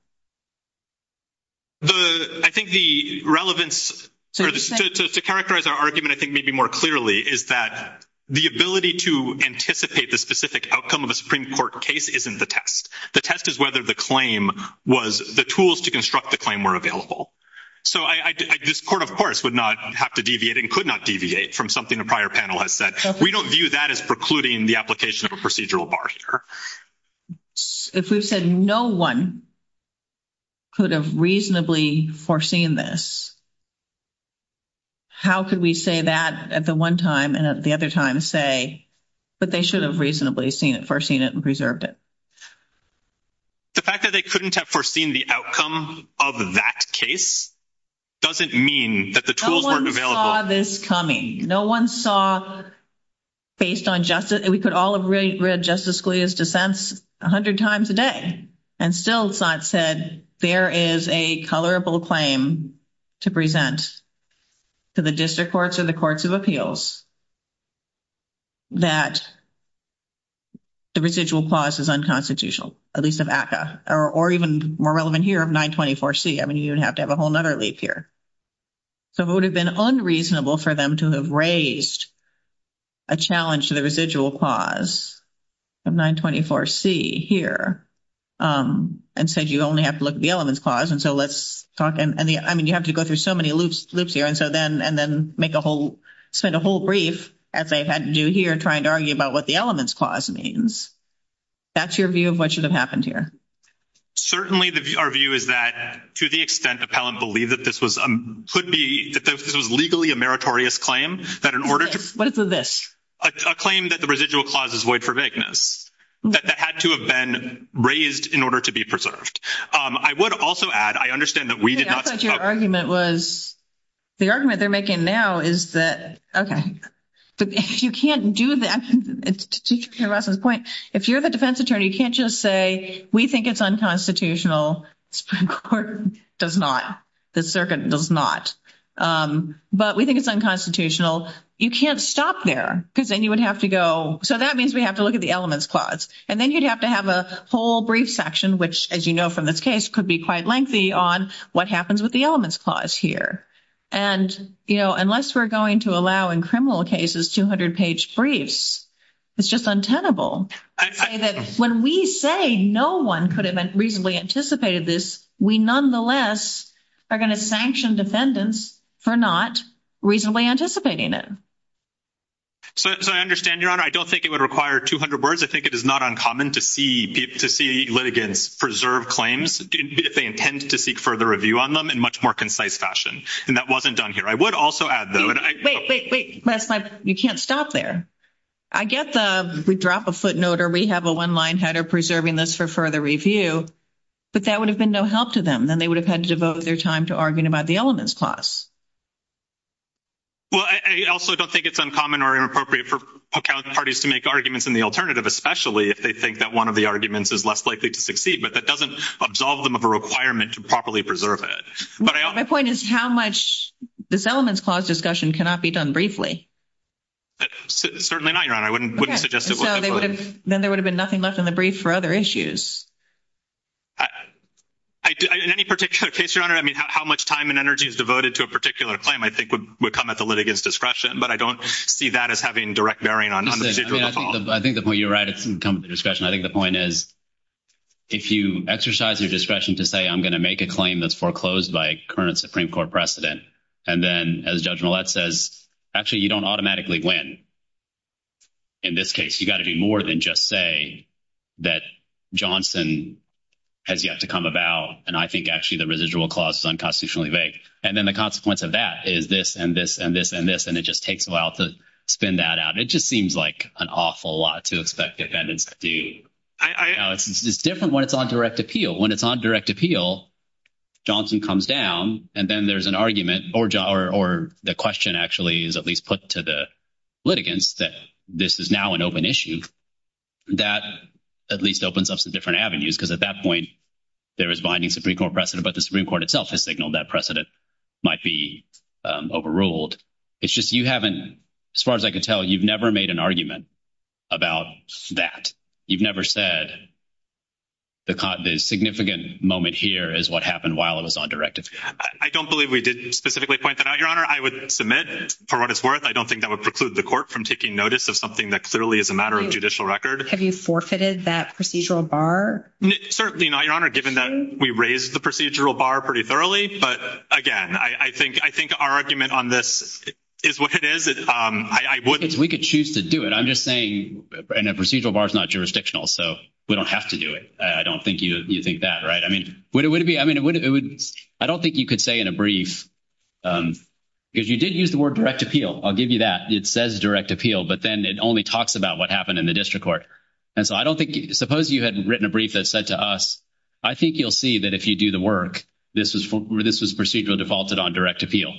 I think the relevance, to characterize our argument, I think, maybe more clearly, is that the ability to anticipate the specific outcome of a Supreme Court case isn't the test. The test is whether the claim was, the tools to construct the claim were available. So, this court, of course, would not have to deviate and could not deviate from something the prior panel has said. We don't view that as precluding the application of a procedural bar here. If we said no one could have reasonably foreseen this, how could we say that at the one time and at the other time say that they should have reasonably foreseen it and preserved it? The fact that they couldn't have foreseen the outcome of that case doesn't mean that the tools weren't available. No one saw this coming. No one saw, based on justice, we could all have read Justice Scalia's defense 100 times a day and still not said there is a colorable claim to present to the district courts or the courts of appeals that the procedural clause is unconstitutional, at least of ACCA. Or even more relevant here, 924C. I mean, you'd have to have a whole other leap here. So, it would have been unreasonable for them to have raised a challenge to the residual clause of 924C here and said you only have to look at the elements clause. And so, let's talk. I mean, you have to go through so many loops here and then make a whole, send a whole brief as they've had to do here trying to argue about what the elements clause means. That's your view of what should have happened here? Certainly, our view is that to the extent the appellant believed that this was, could be, that this was legally a meritorious claim, that in order to- What is this? A claim that the residual clause is void for vagueness, that that had to have been raised in order to be preserved. I would also add, I understand that we did not- I thought your argument was, the argument they're making now is that, okay. You can't do that. If you're the defense attorney, you can't just say, we think it's unconstitutional. The Supreme Court does not. The circuit does not. But we think it's unconstitutional. You can't stop there because then you would have to go. So, that means we have to look at the elements clause. And then you'd have to have a whole brief section, which, as you know from this case, could be quite lengthy on what happens with the elements clause here. And, you know, unless we're going to allow in criminal cases 200-page briefs, it's just untenable. When we say no one could have reasonably anticipated this, we nonetheless are going to sanction defendants for not reasonably anticipating it. So, I understand, Your Honor. I don't think it would require 200 words. I think it is not uncommon to see litigants preserve claims if they intend to seek further review on them in a much more concise fashion. And that wasn't done here. I would also add, though- Wait, wait, wait. Les, you can't stop there. I guess we drop a footnote or we have a one-line header preserving this for further review, but that would have been no help to them. Then they would have had to devote their time to arguing about the elements clause. Well, I also don't think it's uncommon or inappropriate for parties to make arguments in the alternative, especially if they think that one of the arguments is less likely to succeed. But that doesn't absolve them of a requirement to properly preserve it. My point is how much this elements clause discussion cannot be done briefly. Certainly not, Your Honor. I wouldn't suggest it would. Then there would have been nothing left in the brief for other issues. In any particular case, Your Honor, I mean, how much time and energy is devoted to a particular claim, I think, would come at the litigant's discretion. But I don't see that as having direct bearing on the case at all. I think the point you're right. It can come at the discretion. I think the point is if you exercise your discretion to say, I'm going to make a claim that's foreclosed by current Supreme Court precedent, and then, as Judge Millett says, actually, you don't automatically win. In this case, you've got to be more than just say that Johnson has yet to come about, and I think, actually, the residual clause is unconstitutionally vague. And then the consequence of that is this and this and this and this, and it just takes a while to spin that out. It just seems like an awful lot to expect defendants to do. It's different when it's on direct appeal. Johnson comes down, and then there's an argument, or the question actually is at least put to the litigants that this is now an open issue. That at least opens up some different avenues, because at that point, there is binding Supreme Court precedent, but the Supreme Court itself has signaled that precedent might be overruled. It's just you haven't, as far as I can tell, you've never made an argument about that. You've never said the significant moment here is what happened while it was on direct appeal. I don't believe we did specifically point that out, Your Honor. I would submit, for what it's worth, I don't think that would preclude the court from taking notice of something that clearly is a matter of judicial record. Have you forfeited that procedural bar? Certainly not, Your Honor, given that we raised the procedural bar pretty thoroughly. But, again, I think our argument on this is what it is. We could choose to do it. I'm just saying a procedural bar is not jurisdictional, so we don't have to do it. I don't think you think that, right? I mean, I don't think you could say in a brief, if you did use the word direct appeal, I'll give you that. It says direct appeal, but then it only talks about what happened in the district court. And so I don't think, suppose you had written a brief that said to us, I think you'll see that if you do the work, this is procedural defaulted on direct appeal.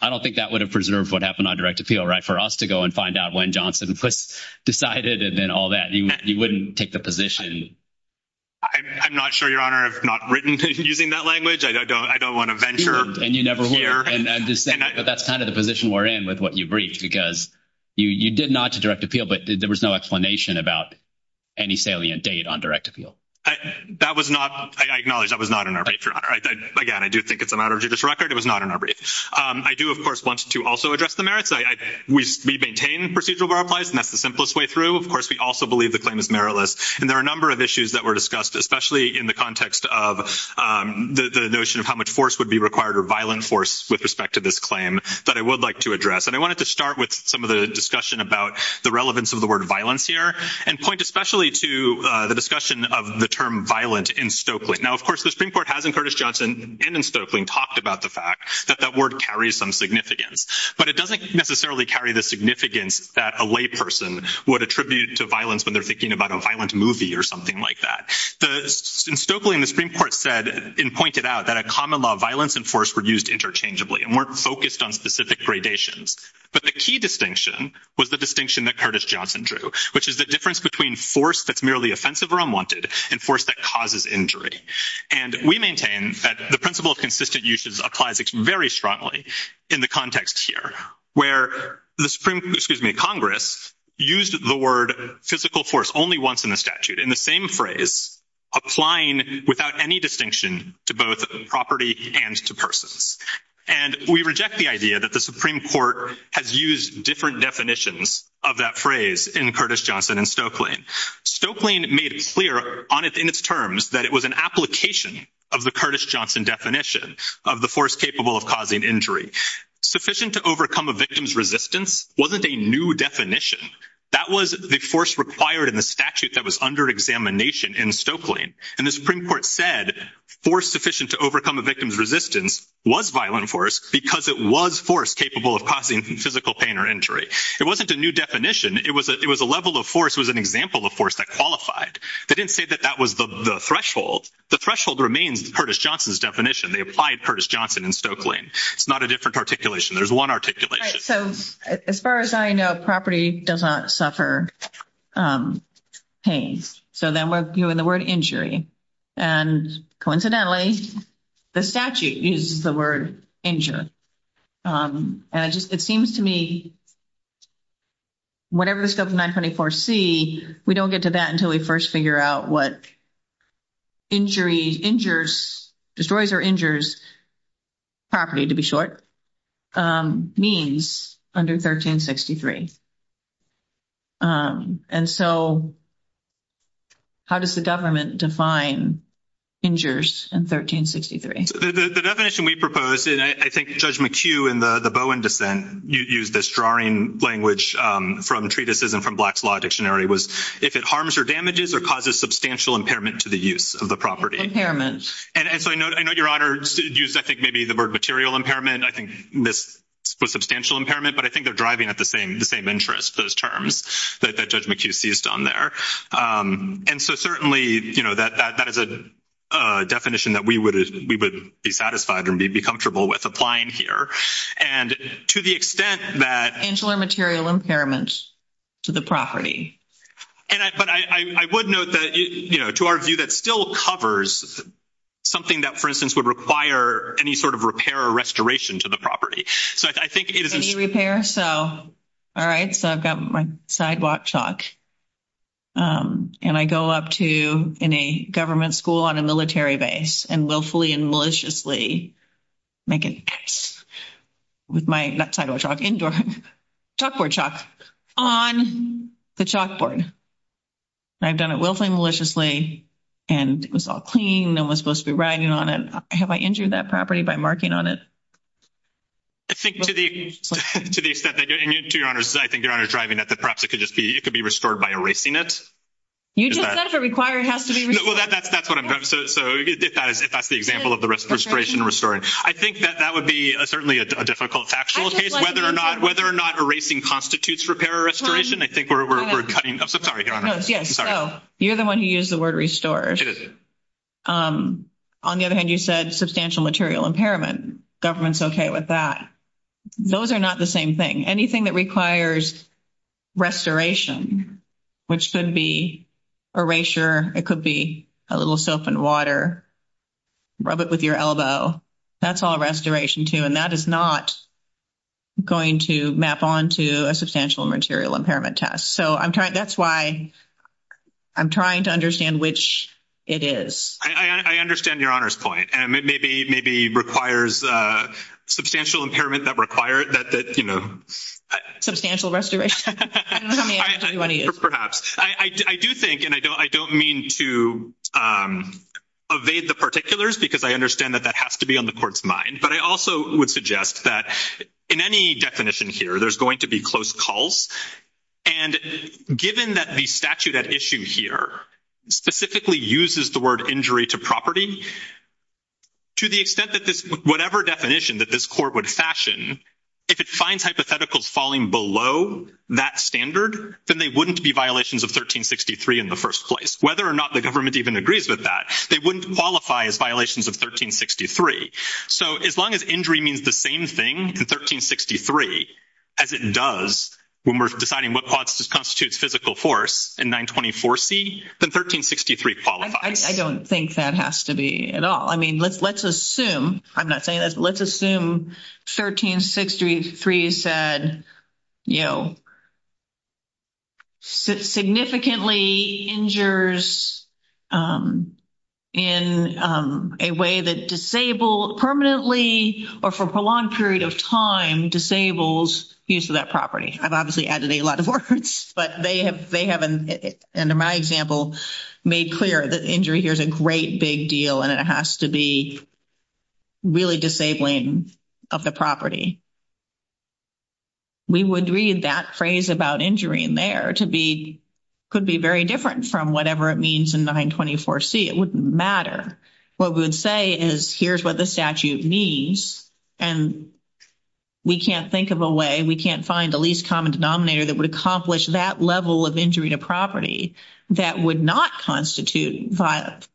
I don't think that would have preserved what happened on direct appeal, right, for us to go and find out when Johnson decided and then all that. You wouldn't take the position. I'm not sure, Your Honor, I've not written using that language. I don't want to venture here. And you never will. And I'm just saying that's kind of the position we're in with what you briefed, because you did not use direct appeal, but there was no explanation about any salient date on direct appeal. That was not, I acknowledge that was not in our brief, Your Honor. Again, I do think it's a matter of judicial record. It was not in our brief. I do, of course, want to also address the merits. We maintain procedural bar applies, and that's the simplest way through. Of course, we also believe the claim is meritless. And there are a number of issues that were discussed, especially in the context of the notion of how much force would be required or violent force with respect to this claim that I would like to address. And I wanted to start with some of the discussion about the relevance of the word violence here and point especially to the discussion of the term violent in Stokely. Now, of course, the Supreme Court has in Curtis Johnson and in Stokely talked about the fact that that word carries some significance. But it doesn't necessarily carry the significance that a layperson would attribute to violence when they're thinking about a violent movie or something like that. In Stokely, the Supreme Court said and pointed out that a common law of violence and force were used interchangeably and weren't focused on specific gradations. But the key distinction was the distinction that Curtis Johnson drew, which is the difference between force that's merely offensive or unwanted and force that causes injury. And we maintain that the principle of consistent uses applies very strongly in the context here, where Congress used the word physical force only once in the statute in the same phrase, applying without any distinction to both property and to persons. And we reject the idea that the Supreme Court has used different definitions of that phrase in Curtis Johnson and Stokely. Stokely made clear in its terms that it was an application of the Curtis Johnson definition of the force capable of causing injury. Sufficient to overcome a victim's resistance wasn't a new definition. That was the force required in the statute that was under examination in Stokely. And the Supreme Court said force sufficient to overcome a victim's resistance was violent force because it was force capable of causing physical pain or injury. It wasn't a new definition. It was a level of force. It was an example of force that qualified. They didn't say that that was the threshold. The threshold remained Curtis Johnson's definition. They applied Curtis Johnson in Stokely. It's not a different articulation. There's one articulation. All right, so as far as I know, property does not suffer pain. So then we're viewing the word injury. And coincidentally, the statute uses the word injury. And it seems to me whatever the 7924C, we don't get to that until we first figure out what injury, injures, destroys or injures property, to be short, means under 1363. And so how does the government define injures in 1363? The definition we propose, and I think Judge McHugh in the Bowen dissent used this drawing language from treatises and from Black's Law Dictionary, was if it harms or damages or causes substantial impairment to the use of the property. Impairment. And so I know Your Honor used I think maybe the word material impairment. I think this was substantial impairment. But I think they're driving at the same interest, those terms that Judge McHugh seized on there. And so certainly, you know, that is a definition that we would be satisfied and be comfortable with applying here. And to the extent that… Angular material impairment to the property. But I would note that, you know, to our view, that still covers something that, for instance, would require any sort of repair or restoration to the property. So I think it is… Any repair? All right. So I've got my sidewalk chalk. And I go up to any government school on a military base and willfully and maliciously make a mess with my—not sidewalk chalk—indoor chalkboard chalk on the chalkboard. And I've done it willfully and maliciously, and it was all clean and I was supposed to be writing on it. Have I injured that property by marking on it? I think to the extent that—and to Your Honor's—I think Your Honor's driving at that perhaps it could just be—it could be restored by erasing it. You just said it requires—has to be restored. Well, that's what I'm—so if that's the example of the restoration and restoring. I think that that would be certainly a difficult factual case, whether or not erasing constitutes repair or restoration. I think we're cutting—I'm sorry, Your Honor. No, yes. Oh. You're the one who used the word restore. It is. On the other hand, you said substantial material impairment. Government's okay with that. Those are not the same thing. Anything that requires restoration, which could be erasure, it could be a little soap and water, rub it with your elbow, that's all restoration, too. And that is not going to map onto a substantial material impairment test. So I'm trying—that's why I'm trying to understand which it is. I understand Your Honor's point. And it maybe requires substantial impairment that require that, you know— Substantial restoration? I don't know how many hours you want to use. Perhaps. I do think—and I don't mean to evade the particulars because I understand that that has to be on the court's mind. But I also would suggest that in any definition here, there's going to be close calls. And given that the statute at issue here specifically uses the word injury to property, to the extent that this—whatever definition that this court would fashion, if it finds hypotheticals falling below that standard, then they wouldn't be violations of 1363 in the first place. Whether or not the government even agrees with that, they wouldn't qualify as violations of 1363. So as long as injury means the same thing in 1363 as it does when we're defining what constitutes physical force in 924C, then 1363 qualifies. I don't think that has to be at all. I mean, let's assume—I'm not saying that—let's assume 1363 said, you know, significantly injures in a way that disabled permanently or for a long period of time disables use of that property. I've obviously added a lot of words. But they have, under my example, made clear that injury here is a great big deal, and it has to be really disabling of the property. We would read that phrase about injury in there to be—could be very different from whatever it means in 924C. It wouldn't matter. What we would say is, here's what the statute means, and we can't think of a way, we can't find the least common denominator that would accomplish that level of injury to property that would not constitute violent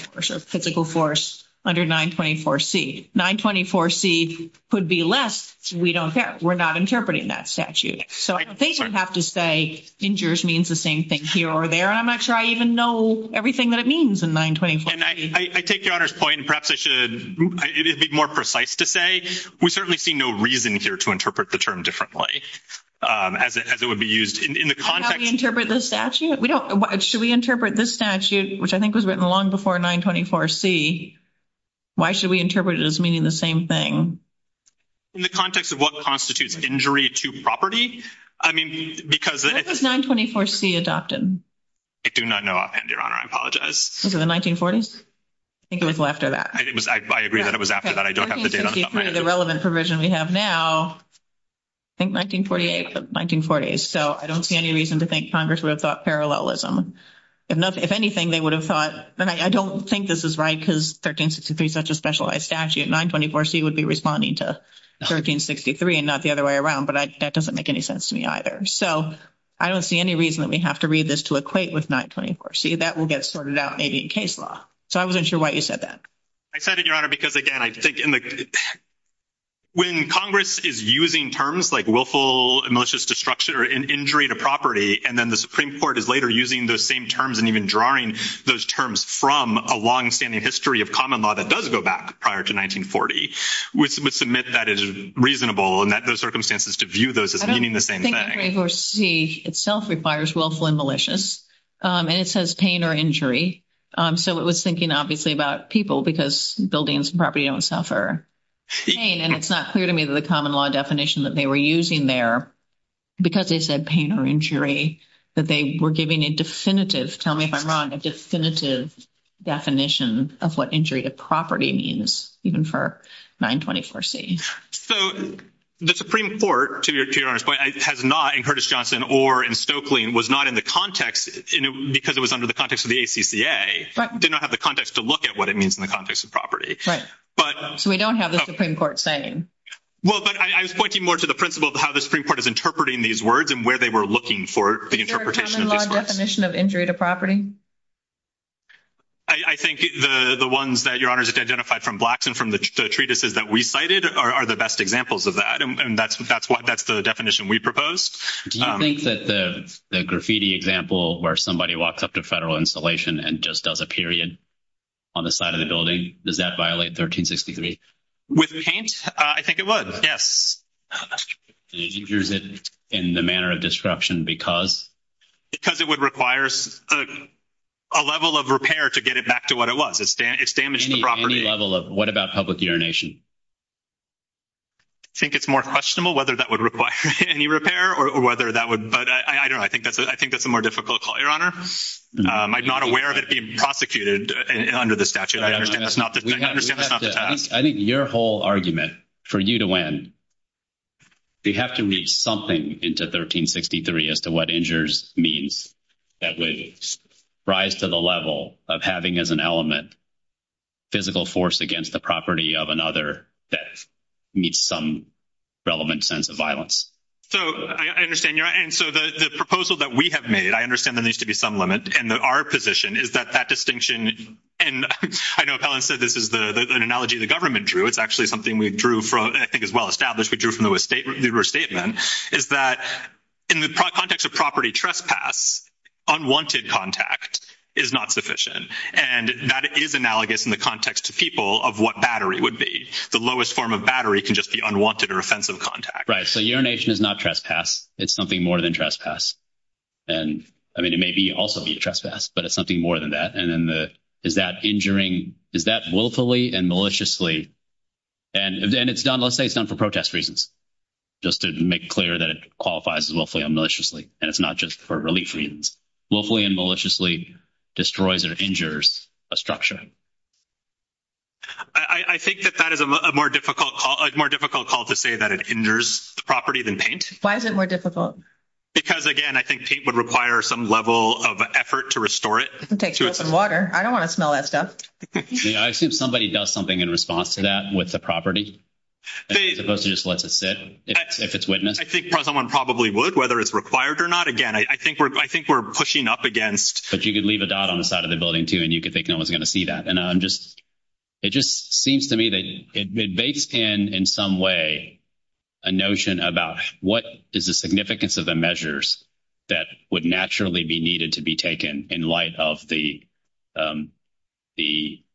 physical force under 924C. 924C could be less. We don't care. We're not interpreting that statute. So I don't think we have to say injures means the same thing here or there. I'm not sure I even know everything that it means in 924C. And I take your Honor's point, and perhaps I should—it'd be more precise to say we certainly see no reason here to interpret the term differently, as it would be used in the context— How do we interpret the statute? We don't—should we interpret this statute, which I think was written long before 924C, why should we interpret it as meaning the same thing? In the context of what constitutes injury to property? I mean, because— When was 924C adopted? I do not know offhand, Your Honor. I apologize. Was it the 1940s? I think it was after that. I agree that it was after that. 1363, the relevant provision we have now, I think 1948 or the 1940s. So I don't see any reason to think Congress would have thought parallelism. If anything, they would have thought—and I don't think this is right because 1363 is such a specialized statute. 924C would be responding to 1363 and not the other way around. But that doesn't make any sense to me either. So I don't see any reason that we have to read this to equate with 924C. That will get sorted out maybe in case law. So I wasn't sure why you said that. I said it, Your Honor, because, again, I think when Congress is using terms like willful and malicious destruction or injury to property, and then the Supreme Court is later using those same terms and even drawing those terms from a longstanding history of common law that does go back prior to 1940, we submit that is reasonable and that those circumstances to view those as meaning the same thing. I don't think 924C itself requires willful and malicious. And it says pain or injury. So it was thinking obviously about people because buildings and property don't suffer pain. And it's not clear to me that the common law definition that they were using there, because they said pain or injury, that they were giving a definitive—tell me if I'm wrong—a definitive definition of what injury to property means, even for 924C. So the Supreme Court, to Your Honor's point, has not, in Curtis-Johnson or in Stokely, was not in the context because it was under the context of the ACCA, did not have the context to look at what it means in the context of property. Right. But— So we don't have the Supreme Court saying. Well, but I was pointing more to the principle of how the Supreme Court is interpreting these words and where they were looking for the interpretation of these words. Is there a common law definition of injury to property? I think the ones that Your Honor has identified from Blacks and from the treatises that we cited are the best examples of that. And that's what—that's the definition we proposed. Do you think that the graffiti example where somebody walks up to a federal installation and just does a period on the side of the building, does that violate 1363? With paint? I think it would, yes. Injuries in the manner of disruption because? Because it would require a level of repair to get it back to what it was. It's damaged the property. Any level of—what about public urination? I think it's more questionable whether that would require any repair or whether that would—but I don't know. I think that's a more difficult call, Your Honor. I'm not aware of it being prosecuted under the statute. I think your whole argument for you to win, we have to reach something into 1363 as to what injures means that would rise to the level of having as an element physical force against the property of another that meets some relevant sense of violence. So I understand, Your Honor. And so the proposal that we have made, I understand there needs to be some limit. And our position is that that distinction—and I know Helen said this is an analogy the government drew. It's actually something we drew from—and I think it's well-established we drew from the statement—is that in the context of property trespass, unwanted contact is not sufficient. And that is analogous in the context to people of what battery would be. The lowest form of battery can just be unwanted or offensive contact. Right. So urination is not trespass. It's something more than trespass. I mean, it may also be trespass, but it's something more than that. And is that injuring—is that willfully and maliciously—and let's say it's not for protest reasons, just to make it clear that it qualifies as willfully and maliciously. And it's not just for relief reasons. Willfully and maliciously destroys or injures a structure. I think that that is a more difficult call to say that it injures the property than paint. Why is it more difficult? Because, again, I think paint would require some level of effort to restore it. It can take soap and water. I don't want to smell that stuff. I assume somebody does something in response to that with the property. It's supposed to just let it sit if it's witnessed. I think someone probably would, whether it's required or not. Again, I think we're pushing up against— But you could leave a dot on the side of the building, too, and you could think no one's going to see that. It just seems to me that it makes, in some way, a notion about what is the significance of the measures that would naturally be needed to be taken in light of the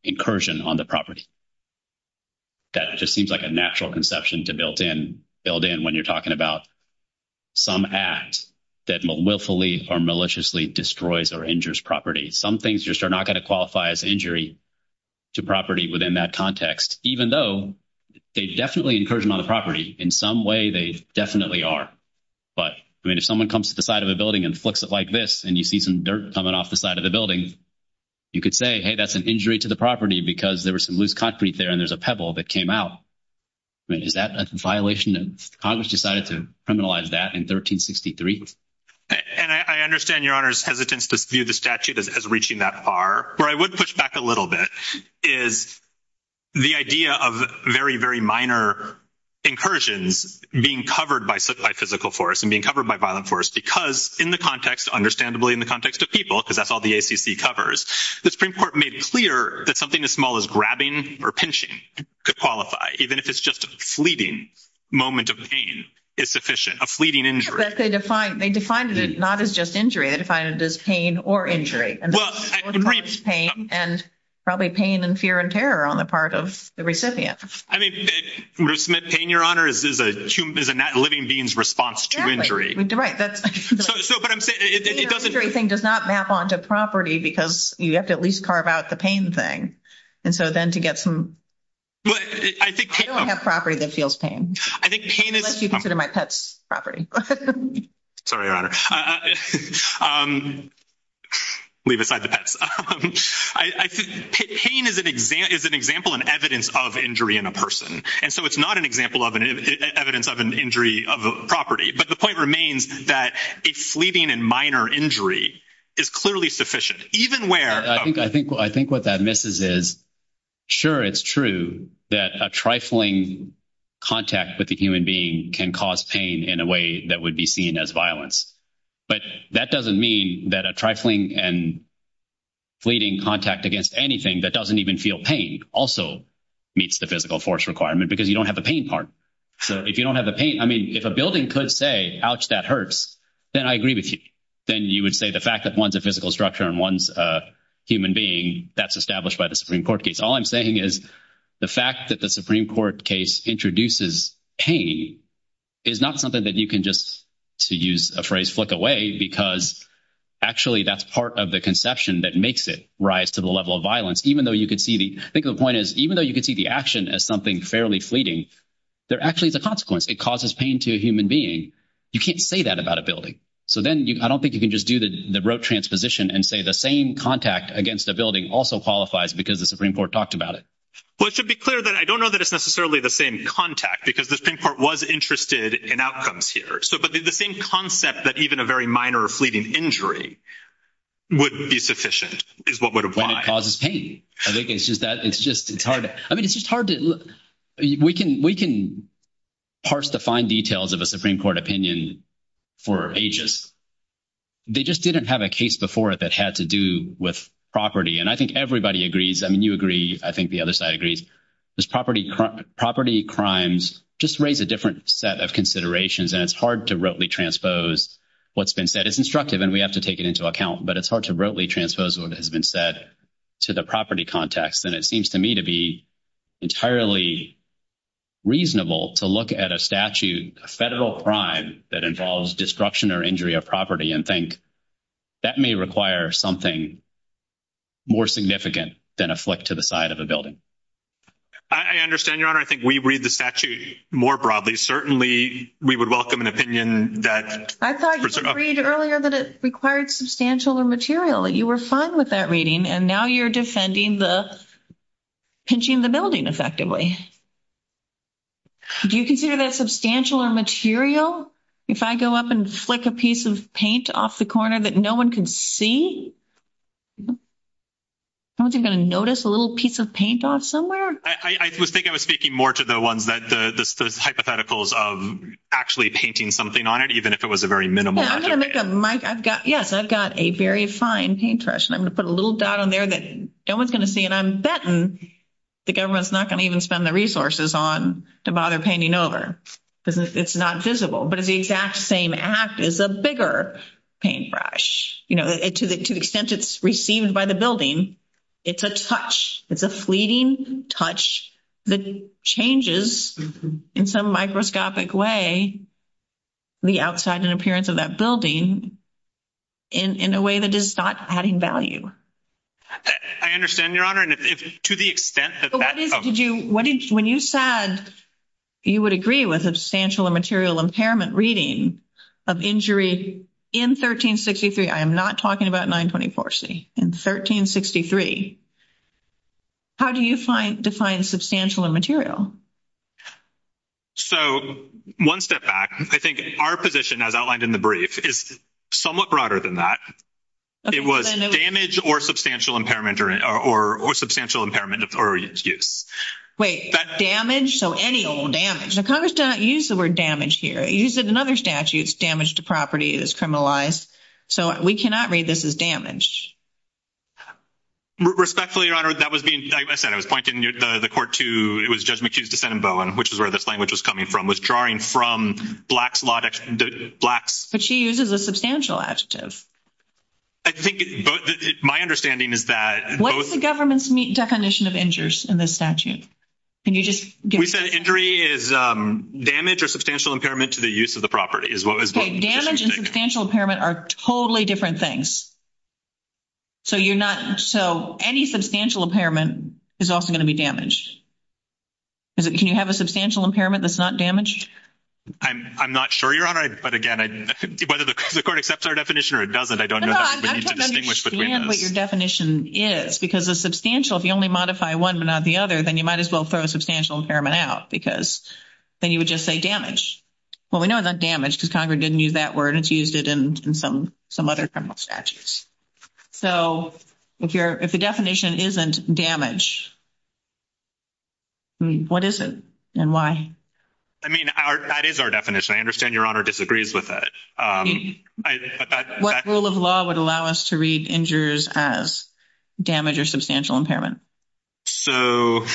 incursion on the property. That just seems like a natural conception to build in when you're talking about some act that willfully or maliciously destroys or injures property. Some things just are not going to qualify as injury to property within that context, even though they definitely incursion on the property. In some way, they definitely are. But, I mean, if someone comes to the side of a building and flips it like this, and you see some dirt coming off the side of the building, you could say, hey, that's an injury to the property because there was some loose concrete there, and there's a pebble that came out. I mean, is that a violation? Congress decided to criminalize that in 1363. And I understand Your Honor's hesitance to view the statute as reaching that far. Where I would push back a little bit is the idea of very, very minor incursions being covered by physical force and being covered by violent force because, in the context, understandably in the context of people, because that's all the ACC covers, the Supreme Court made clear that something as small as grabbing or pinching could qualify, even if it's just a fleeting moment of pain is sufficient, a fleeting injury. But they defined it not as just injury. They defined it as pain or injury. And pain and probably pain and fear and terror are only part of the recipient. I mean, isn't that pain, Your Honor? Isn't that a living being's response to injury? Right. But I'm saying it doesn't... The injury thing does not map onto property because you have to at least carve out the pain thing. And so then to get some... I think pain... I don't have property that feels pain. Unless you consider my pets property. Sorry, Your Honor. Leave aside the pets. I think pain is an example and evidence of injury in a person. And so it's not an example of an evidence of an injury of a property. But the point remains that a fleeting and minor injury is clearly sufficient, even where... I think what that misses is, sure, it's true that a trifling contact with a human being can cause pain in a way that would be seen as violence. But that doesn't mean that a trifling and fleeting contact against anything that doesn't even feel pain also meets the physical force requirement because you don't have the pain part. So if you don't have the pain... I mean, if a building could say, ouch, that hurts, then I agree with you. Then you would say the fact that one's a physical structure and one's a human being, that's established by the Supreme Court case. All I'm saying is the fact that the Supreme Court case introduces pain is not something that you can just, to use a phrase, flick away because actually that's part of the conception that makes it rise to the level of violence. Even though you could see the... I think the point is even though you could see the action as something fairly fleeting, there actually is a consequence. It causes pain to a human being. You can't say that about a building. So then I don't think you can just do the Broad Transposition and say the same contact against a building also qualifies because the Supreme Court talked about it. Well, to be clear, I don't know that it's necessarily the same contact because the Supreme Court was interested in outcomes here. But the same concept that even a very minor or fleeting injury would be sufficient is what would apply. But it causes pain. It's just hard. I mean, it's just hard to... We can parse the fine details of a Supreme Court opinion for ages. They just didn't have a case before that had to do with property. And I think everybody agrees. I mean, you agree. I think the other side agrees. Property crimes just raise a different set of considerations, and it's hard to broadly transpose what's been said. It's instructive, and we have to take it into account. But it's hard to broadly transpose what has been said to the property context. And it seems to me to be entirely reasonable to look at a statute, a federal crime that involves destruction or injury of property, and think that may require something more significant than a flick to the side of a building. I understand, Your Honor. I think we read the statute more broadly. Certainly, we would welcome an opinion that... I thought you agreed earlier that it required substantial or material. You were fine with that reading, and now you're defending the pinching the building effectively. Do you consider that substantial or material? If I go up and flip a piece of paint off the corner that no one can see, aren't they going to notice a little piece of paint off somewhere? I think I was speaking more to the hypotheticals of actually painting something on it, even if it was a very minimal object. Yes, I've got a very fine paintbrush, and I'm going to put a little dot on there that no one's going to see, and I'm betting the government's not going to even spend the resources on the bottom painting over. It's not visible, but it's the exact same as is a bigger paintbrush. To the extent it's received by the building, it's a touch. It's a fleeting touch that changes, in some microscopic way, the outside and appearance of that building in a way that is not adding value. I understand, Your Honor, and to the extent that that... When you said you would agree with substantial or material impairment reading of injuries in 1363, I am not talking about 924C, in 1363, how do you define substantial or material? One step back, I think our position, as outlined in the brief, is somewhat broader than that. It was damage or substantial impairment or use. Wait, damage? So any damage? Congress did not use the word damage here. It used it in other statutes, damage to property that is criminalized. So we cannot read this as damage. Respectfully, Your Honor, that was being... I said I was pointing the court to... It was Judge McHugh's defendant, Bowen, which is where this language was coming from, was drawing from black... But she uses a substantial adjective. I think my understanding is that... What is the government's definition of injuries in this statute? Can you just... We said injury is damage or substantial impairment to the use of the property. Damage and substantial impairment are totally different things. So you're not... So any substantial impairment is also going to be damaged. Can you have a substantial impairment that's not damaged? I'm not sure, Your Honor, but again, whether the court accepts our definition or it doesn't, I don't know... No, I just don't understand what your definition is because a substantial, if you only modify one but not the other, then you might as well throw a substantial impairment out because then you would just say damage. Well, we know it's not damage because Congress didn't use that word. It's used it in some other criminal statutes. So if the definition isn't damage, what is it and why? I mean, that is our definition. I understand Your Honor disagrees with it. What rule of law would allow us to read injuries as damage or substantial impairment? So...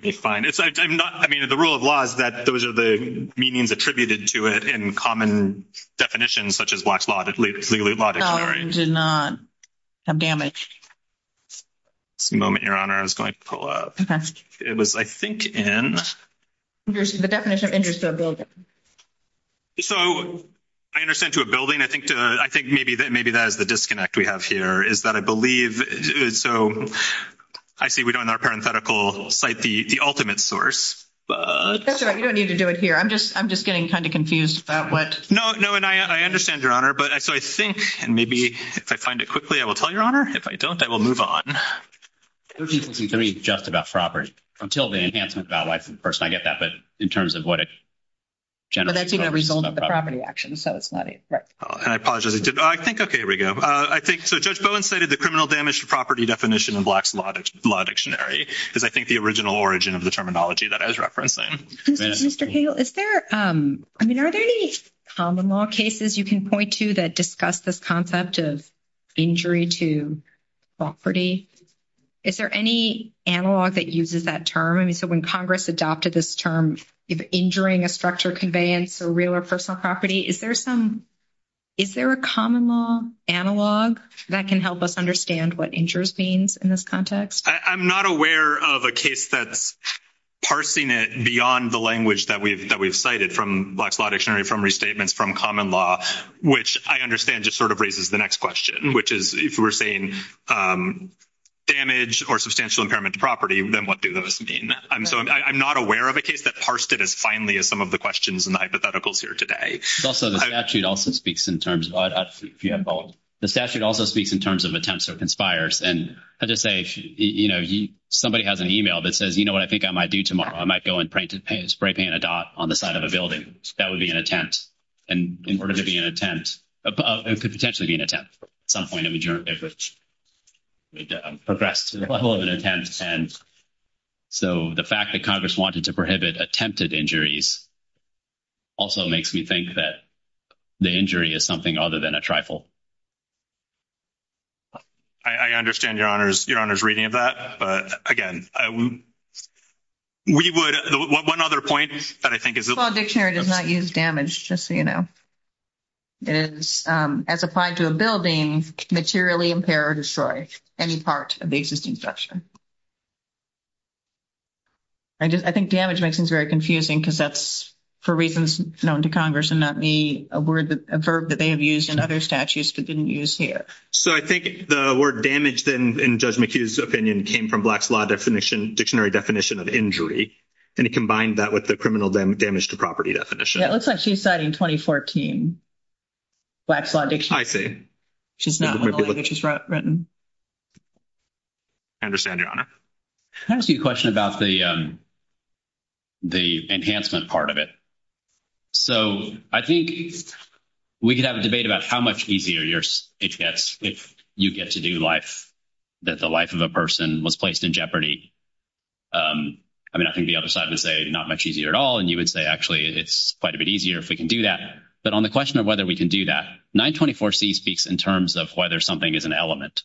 It's fine. I'm not... I mean, the rule of law is that those are the meanings attributed to it in common definitions such as black law, legal law. No, it does not have damage. One moment, Your Honor. I was going to pull up. It was, I think, in... The definition of injuries. So I understand to a building. I think maybe that is the disconnect we have here is that I believe... So I see we don't in our parenthetical cite the ultimate source. That's all right. You don't need to do it here. I'm just getting kind of confused about what... No, and I understand, Your Honor. So I think, and maybe if I find it quickly, I will tell Your Honor. If I don't, I will move on. 1363 is just about property. Until the enhancement by the person, I get that. But in terms of what... But I see the result of the property action, so it's not... And I apologize. I think, okay, here we go. I think, so Judge Bowen cited the criminal damage to property definition in Black's Law Dictionary. Because I think the original origin of the terminology that has referenced that. Mr. Cagle, is there, I mean, are there any common law cases you can point to that discuss this concept of injury to property? Is there any analog that uses that term? I mean, so when Congress adopted this term, if injuring a structure conveyance for real or personal property, is there some... Is there a common law analog that can help us understand what injures means in this context? I'm not aware of a case that's parsing it beyond the language that we've cited from Black's Law Dictionary from restatements from common law, which I understand just sort of raises the next question, which is if we're saying damage or substantial impairment to property, then what do those mean? And so I'm not aware of a case that parsed it as finely as some of the questions and the hypotheticals here today. Also, the statute also speaks in terms of... If you have both. The statute also speaks in terms of attempts or conspires. And as I say, you know, somebody has an email that says, you know what, I think I might do tomorrow. I might go and spray paint a dot on the side of a building. That would be an attempt. And in order to be an attempt, it could potentially be an attempt, at some point in which it progressed to the level of an attempt. And so the fact that Congress wanted to prohibit attempted injuries also makes me think that the injury is something other than a trifle. I understand Your Honor's reading of that. But, again, we would... One other point that I think is... The law dictionary does not use damage, just so you know. As applied to a building, materially impair or destroy any part of the existing structure. I think damage makes things very confusing because that's for reasons known to Congress and not a verb that they have used in other statutes but didn't use here. So I think the word damage, then, in Judge McHugh's opinion, came from Black's law dictionary definition of injury. And he combined that with the criminal damage to property definition. Yeah, it looks like she said in 2014. Black's law dictionary. I see. Which is not what the language is written. I understand, Your Honor. Can I ask you a question about the enhancement part of it? So I think we could have a debate about how much easier you get to do life, that the life of a person was placed in jeopardy. I mean, I think the other side would say not much easier at all, and you would say actually it's quite a bit easier if we can do that. But on the question of whether we can do that, 924C speaks in terms of whether something is an element.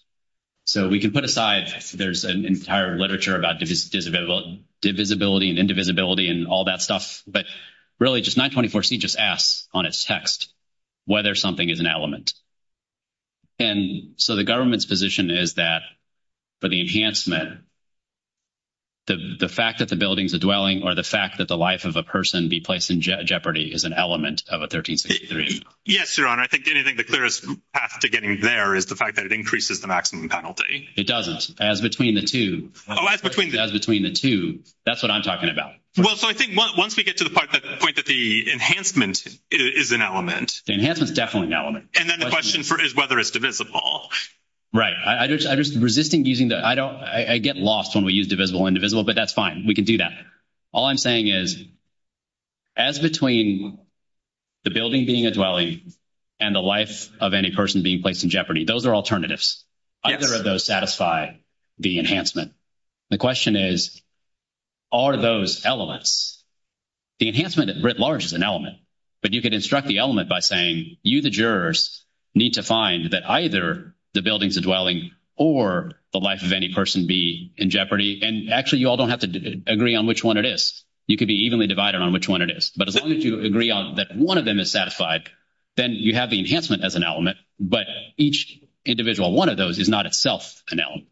So we can put aside there's an entire literature about divisibility and indivisibility and all that stuff, but really just 924C just asks on its text whether something is an element. And so the government's position is that for the enhancement, the fact that the building is a dwelling or the fact that the life of a person be placed in jeopardy is an element of a 1333. Yes, Your Honor. I think the clearest path to getting there is the fact that it increases the maximum penalty. It doesn't. As between the two. Oh, as between the two. As between the two. That's what I'm talking about. Well, so I think once we get to the point that the enhancement is an element. The enhancement is definitely an element. And then the question is whether it's divisible. Right. I'm just resisting using that. I get lost when we use divisible and indivisible, but that's fine. We can do that. All I'm saying is as between the building being a dwelling and the life of any person being placed in jeopardy, those are alternatives. Either of those satisfy the enhancement. The question is are those elements. The enhancement is writ large as an element, but you can instruct the element by saying you, the jurors, need to find that either the building, the dwelling, or the life of any person be in jeopardy. And actually you all don't have to agree on which one it is. You can be evenly divided on which one it is. But as long as you agree that one of them is satisfied, then you have the enhancement as an element, but each individual, one of those is not itself an element.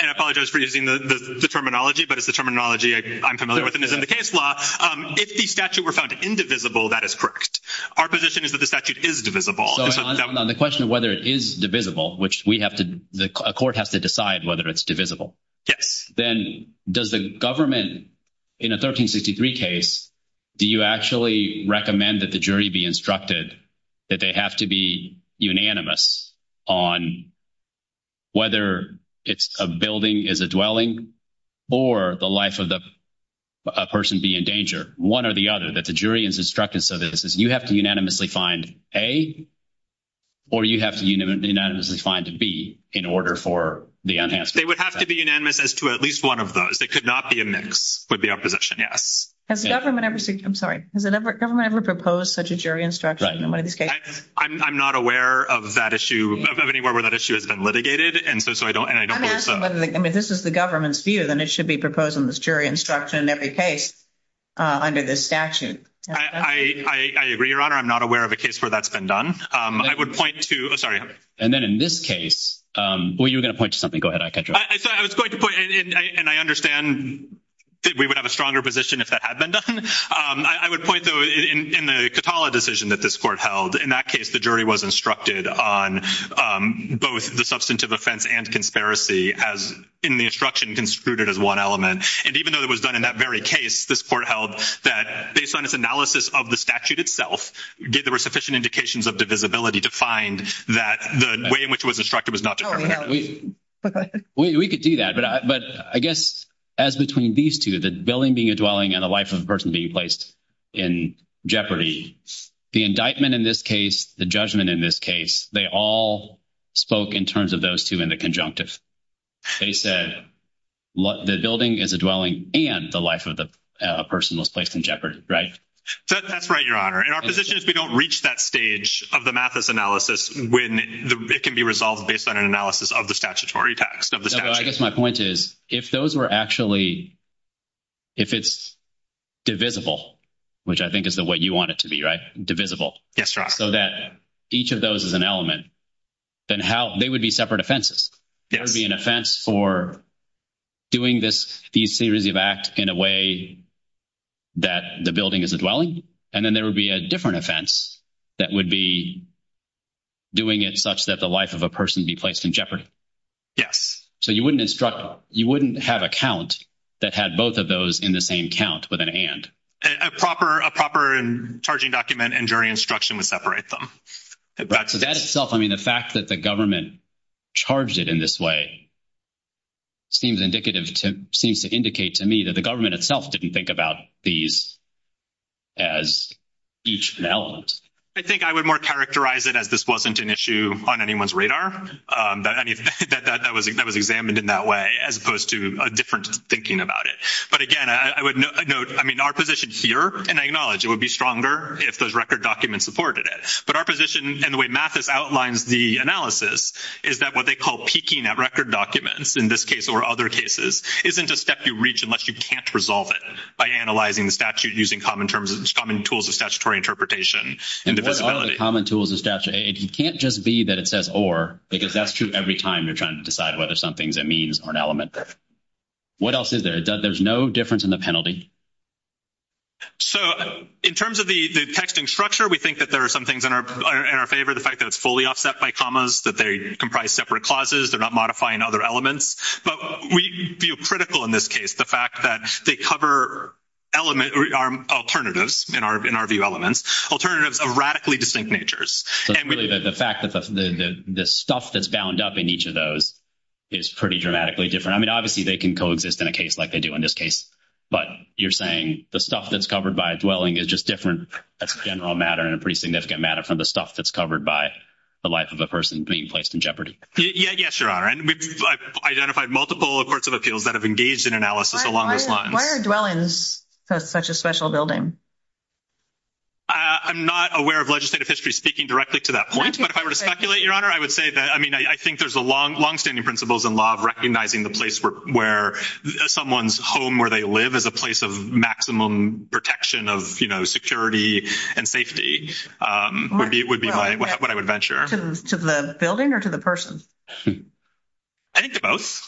And I apologize for using the terminology, but it's the terminology I'm familiar with. If the statute were found indivisible, that is correct. Our position is that the statute is divisible. On the question of whether it is divisible, which we have to, a court has to decide whether it's divisible. Yes. Then does the government in a 1363 case, do you actually recommend that the jury be instructed that they have to be unanimous on whether it's a building, is a dwelling, or the life of a person be in danger, one or the other, that the jury is instructed so that you have to unanimously find A, or you have to unanimously find B in order for the enhancement. They would have to be unanimous as to at least one of those. It could not be a mix with the opposition, yes. Has the government ever proposed such a jury instruction? I'm not aware of that issue, of anywhere where that issue has been litigated, and so I don't think so. I mean, this is the government's view, then it should be proposing this jury instruction in every case under this statute. I agree, Your Honor. I'm not aware of a case where that's been done. I would point to, sorry. And then in this case, well, you were going to point to something. Go ahead. I was going to point, and I understand that we would have a stronger position if that had been done. I would point, though, in the Katala decision that this court held, in that case the jury was instructed on both the substantive offense and conspiracy as in the instruction construed it as one element. And even though it was done in that very case, this court held that based on its analysis of the statute itself, there were sufficient indications of divisibility to find that the way in which it was instructed was not determined. We could do that. But I guess as between these two, the building being a dwelling and the life of the person being placed in jeopardy, the indictment in this case, the judgment in this case, they all spoke in terms of those two in the conjunctive. They said the building is a dwelling and the life of the person was placed in jeopardy, right? That's right, Your Honor. And our position is we don't reach that stage of the Mathis analysis when it can be resolved based on an analysis of the statutory text. I guess my point is if those were actually, if it's divisible, which I think is the way you want it to be, right? Divisible. Yes, Your Honor. So that each of those is an element. Then how they would be separate offenses. There would be an offense for doing this, these series of acts in a way that the building is a dwelling. And then there would be a different offense that would be doing it such that the life of a person be placed in jeopardy. Yes. So you wouldn't instruct, you wouldn't have a count that had both of those in the same count with an and. A proper charging document and jury instruction would separate them. So that itself, I mean, the fact that the government charged it in this way seems indicative, seems to indicate to me that the government itself didn't think about these as each of the elements. I think I would more characterize it as this wasn't an issue on anyone's radar. That was examined in that way as opposed to a different thinking about it. But again, I would note, I mean, our position here and I acknowledge it would be stronger if those record documents supported it, but our position and the way Mathis outlines the analysis is that what they call peaking at record documents in this case or other cases, isn't a step you reach unless you can't resolve it by analyzing the statute using common terms and common tools of statutory interpretation. And what are the common tools of statute? If you can't just be that it says or, because that's true every time you're trying to decide whether something's a means or an element. What else is there? There's no difference in the penalty. So in terms of the texting structure, we think that there are some things in our favor, the fact that it's fully offset by commas, that they comprise separate clauses. They're not modifying other elements, but we feel critical in this case, the fact that they cover element alternatives in our view, alternatives of radically distinct natures. The fact that the stuff that's bound up in each of those is pretty dramatically different. I mean, obviously they can co-exist in a case like they do in this case, but you're saying the stuff that's covered by a dwelling is just different. That's a general matter and a pretty significant matter from the stuff that's covered by the life of a person being placed in jeopardy. Yeah, yes there are and we've identified multiple reports of appeals that have engaged in analysis. Why are dwellings such a special building? I'm not aware of legislative history speaking directly to that point, but if I were to speculate your honor, I would say that, I mean, I think there's a long, longstanding principles in law of recognizing the place where someone's home, where they live as a place of maximum protection of, you know, security and safety would be what I would venture. To the building or to the person? I think to both.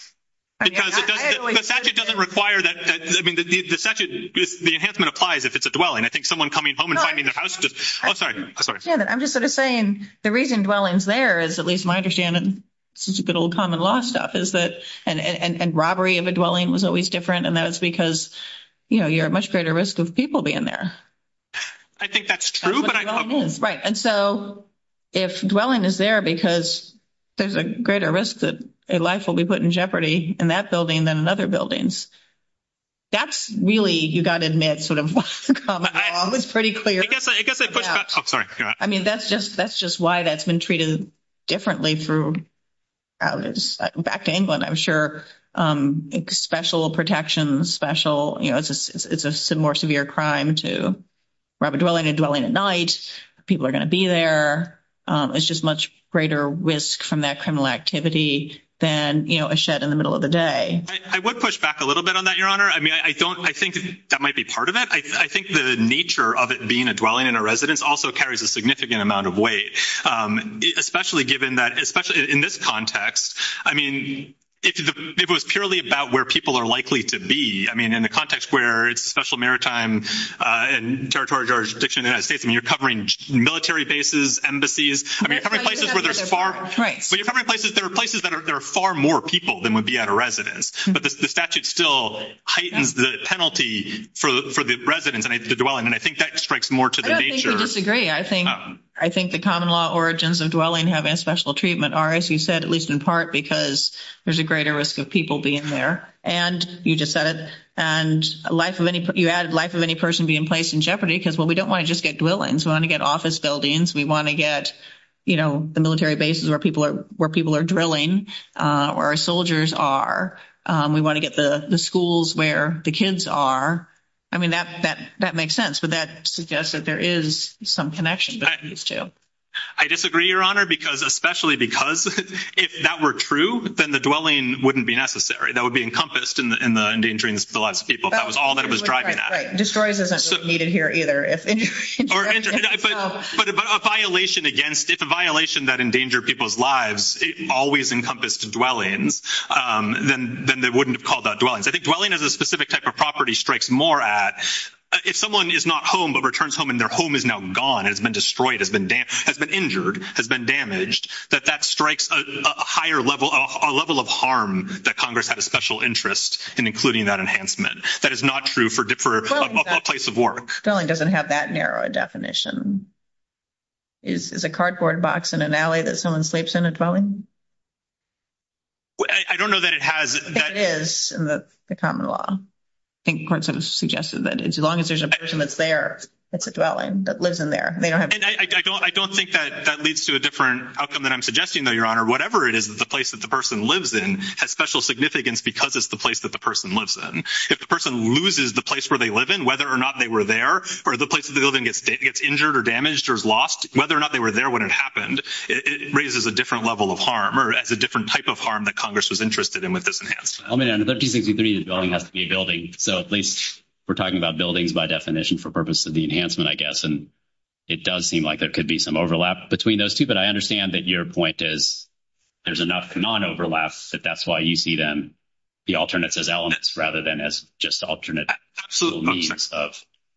The statute doesn't require that. The enhancement applies if it's a dwelling. I think someone coming home and finding their house. I'm sorry. I'm sorry. I'm just sort of saying the reason dwellings there is at least my understanding, this is a bit old common law stuff is that, and robbery of a dwelling was always different and that was because, you know, you're at much greater risk of people being there. I think that's true, but I don't know. Right. And so if dwelling is there because there's a greater risk that a life will be put in jeopardy in that building than in other buildings. That's really, you got to admit sort of pretty clear. I mean, that's just, that's just why that's been treated differently through back to England. I'm sure special protection special, you know, it's a more severe crime to rather dwelling and dwelling at night. People are going to be there. It's just much greater risk from that kind of activity. Then, you know, a shed in the middle of the day, I would push back a little bit on that. I mean, I don't, I think that might be part of that. I think the nature of it being a dwelling in a residence also carries a significant amount of weight, especially given that, especially in this context, I mean, it was purely about where people are likely to be. I mean, in the context where it's a special maritime and territory jurisdiction, and you're covering military bases, embassies, I mean, you're covering places. There are places that are, there are far more people than would be at a residence, but the statute still heightens the penalty for the residents and the dwelling. And I think that just breaks more to the nature. I agree. I think, I think the common law origins of dwelling having a special treatment are, as you said, at least in part, because there's a greater risk of people being there. And you just said it and a life of any, you add life of any person being placed in jeopardy because, we don't want to just get dwellings. We want to get office buildings. We want to get, you know, the military bases where people are, where people are drilling or our soldiers are. We want to get the schools where the kids are. I mean, that, that, that makes sense, but that suggests that there is some connection to. I disagree, your honor, because especially because if that were true, then the dwelling wouldn't be necessary. That would be encompassed in the, in the endangering the lives of people. That was all that it was driving at. Destroyers isn't needed here either. But if a violation against it, the violation that endanger people's lives, always encompassed dwelling, then, then they wouldn't have called that dwellings. I think dwelling as a specific type of property strikes more at, if someone is not home, but returns home and their home is now gone, has been destroyed, has been damaged, has been injured, has been damaged, that that strikes a higher level, a level of harm that Congress had a special interest in, including that enhancement. That is not true for a place of work. Dwelling doesn't have that narrow a definition. Is a cardboard box in an alley that someone sleeps in a dwelling? I don't know that it has. It is in the common law. I think courts have suggested that as long as there's a person that's there, that's a dwelling, that lives in there. I don't, I don't think that that leads to a different outcome than I'm suggesting, though, your honor, whatever it is, the place that the person lives in has special significance because it's the place that the person lives in. If the person loses the place where they live in, whether or not they were there, or the place of the building gets, gets injured or damaged or is lost, whether or not they were there when it happened, it raises a different level of harm or as a different type of harm that Congress was interested in with this enhanced. I mean, the building has to be a building. So at least we're talking about buildings by definition for purpose of the enhancement, I guess, and it does seem like there could be some overlap between those two, but I understand that your point is there's enough non-overlaps, but that's why you see them, the alternates as elements rather than as just alternate. So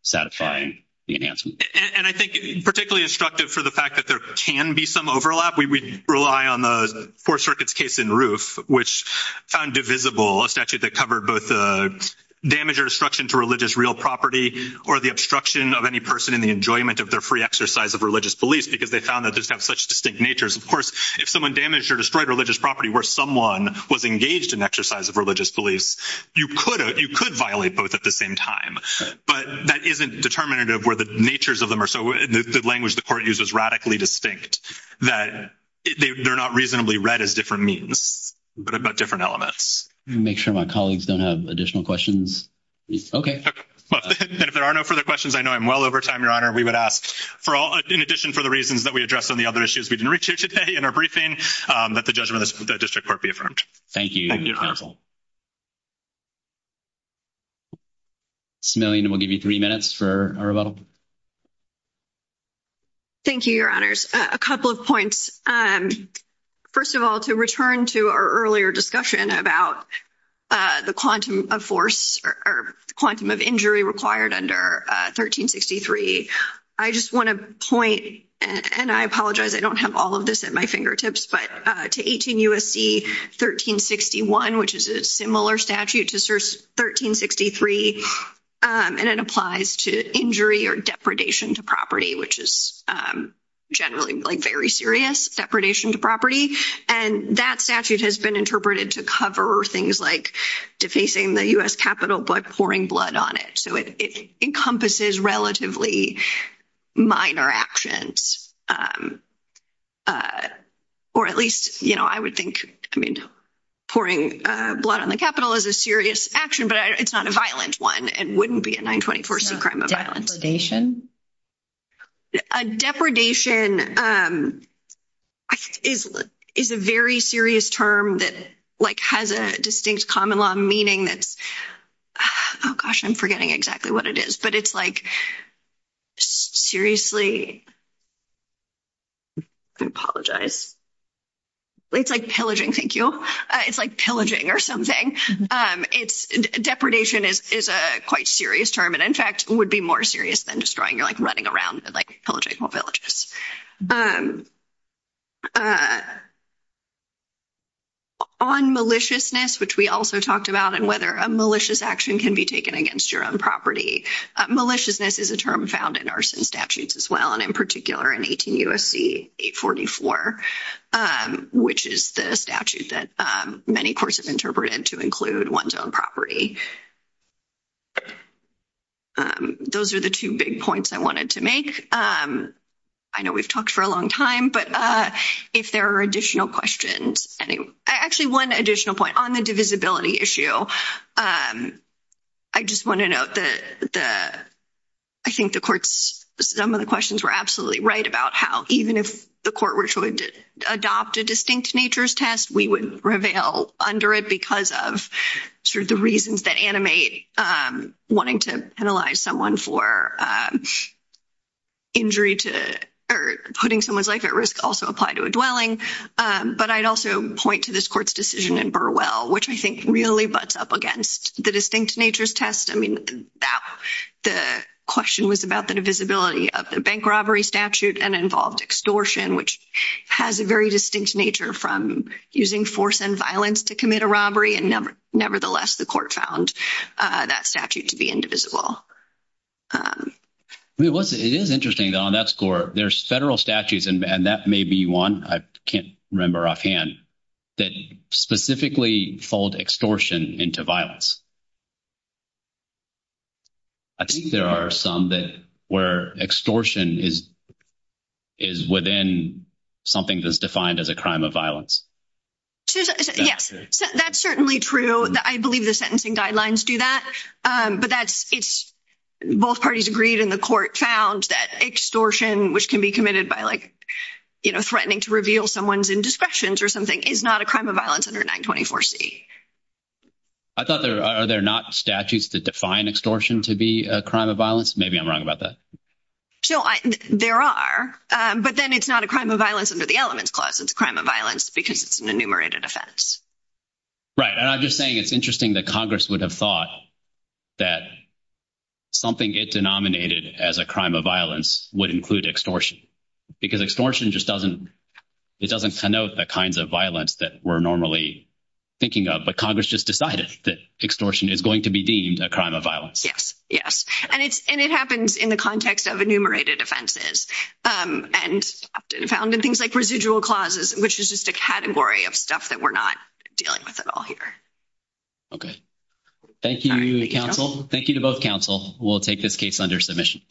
satisfying. And I think particularly instructive for the fact that there can be some overlap. We rely on the poor circuits case in roof, which found divisible a statute that covered both the damage or destruction to religious real property or the obstruction of any person in the enjoyment of their free exercise of religious beliefs, because they found that there's such distinct natures. Of course, if someone damaged or destroyed religious property, where someone was engaged in exercise of religious beliefs, you could, you could violate both at the same time, but that isn't determinative where the natures of them are. So the language, the court uses radically distinct that they're not reasonably read as different means, but about different elements make sure my colleagues don't have additional questions. Okay. If there are no further questions, I know I'm well over time. we would ask for all in addition for the reasons that we addressed on the other issues we didn't reach you today in our briefing that the judgment of the district court be affirmed. Thank you. Smiling. We'll give you three minutes for our level. Thank you. Your honors a couple of points. First of all, to return to our earlier discussion about the quantum of force or quantum of injury required under 1363. I just want to point and I apologize. I don't have all of this at my fingertips, but to 18 USC, 1361, which is a similar statute to 1363. And it applies to injury or depredation to property, which is generally like very serious depredation to property. And that statute has been interpreted to cover things like defacing the US Capitol, but pouring blood on it. So it encompasses relatively minor actions. Or at least, you know, I would think pouring blood on the Capitol is a serious action, but it's not a violent one. It wouldn't be a 924 C crime of violence. Depredation is, is a very serious term that like has a distinct common law meaning. Oh gosh, I'm forgetting exactly what it is, but it's like seriously. I apologize. It's like pillaging. Thank you. It's like pillaging or something. It's depredation is, is a quite serious term and in fact would be more serious than destroying you're like running around and like pillaging more villages. On maliciousness, which we also talked about and whether a malicious action can be taken against your own property. Maliciousness is a term found in arson statutes as well. And in particular in 18 USC 844, which is the statute that many courses interpreted to include one's own property. Those are the two big points I wanted to make. I know we've talked for a long time, but if there are additional questions, actually one additional point on the divisibility issue, I just want to note that the, I think the courts, some of the questions were absolutely right about how, even if the court were to adopt a distinct natures test, we would reveal under it because of sort of the reasons that animate wanting to penalize someone for injury to, or putting someone's life at risk also apply to a dwelling. But I'd also point to this court's decision in Burwell, which I think really butts up against the distinct natures test. I mean, the question was about the divisibility of the bank robbery statute and involved extortion, which has a very distinct nature from using force and violence to commit a And nevertheless, the court found that statute to be indivisible. It is interesting on that score. There's federal statutes and that may be one. I can't remember offhand that specifically fold extortion into violence. I think there are some that were extortion is, is within something that's defined as a crime of violence. That's certainly true. I believe the sentencing guidelines do that, but that's it's both parties agreed in the court found that extortion, which can be committed by like, you know, threatening to reveal someone's indiscretions or something is not a crime of violence under nine 24 C. I thought there are, they're not statutes that define extortion to be a crime of violence. Maybe I'm wrong about that. So there are, but then it's not a crime of violence under the elements clause. It's a crime of violence because it's an enumerated offense. Right. And I'm just saying it's interesting that Congress would have thought that something gets denominated as a crime of violence would include extortion because extortion just doesn't, it doesn't connote the kinds of violence that we're normally thinking of, but Congress just decided that extortion is going to be deemed a crime of Yes. And it's, and it happens in the context of enumerated offenses and found in things like residual clauses, which is just a category of stuff that we're not dealing with at all here. Okay. Thank you, Thank you to both counsel. We'll take this case under submission.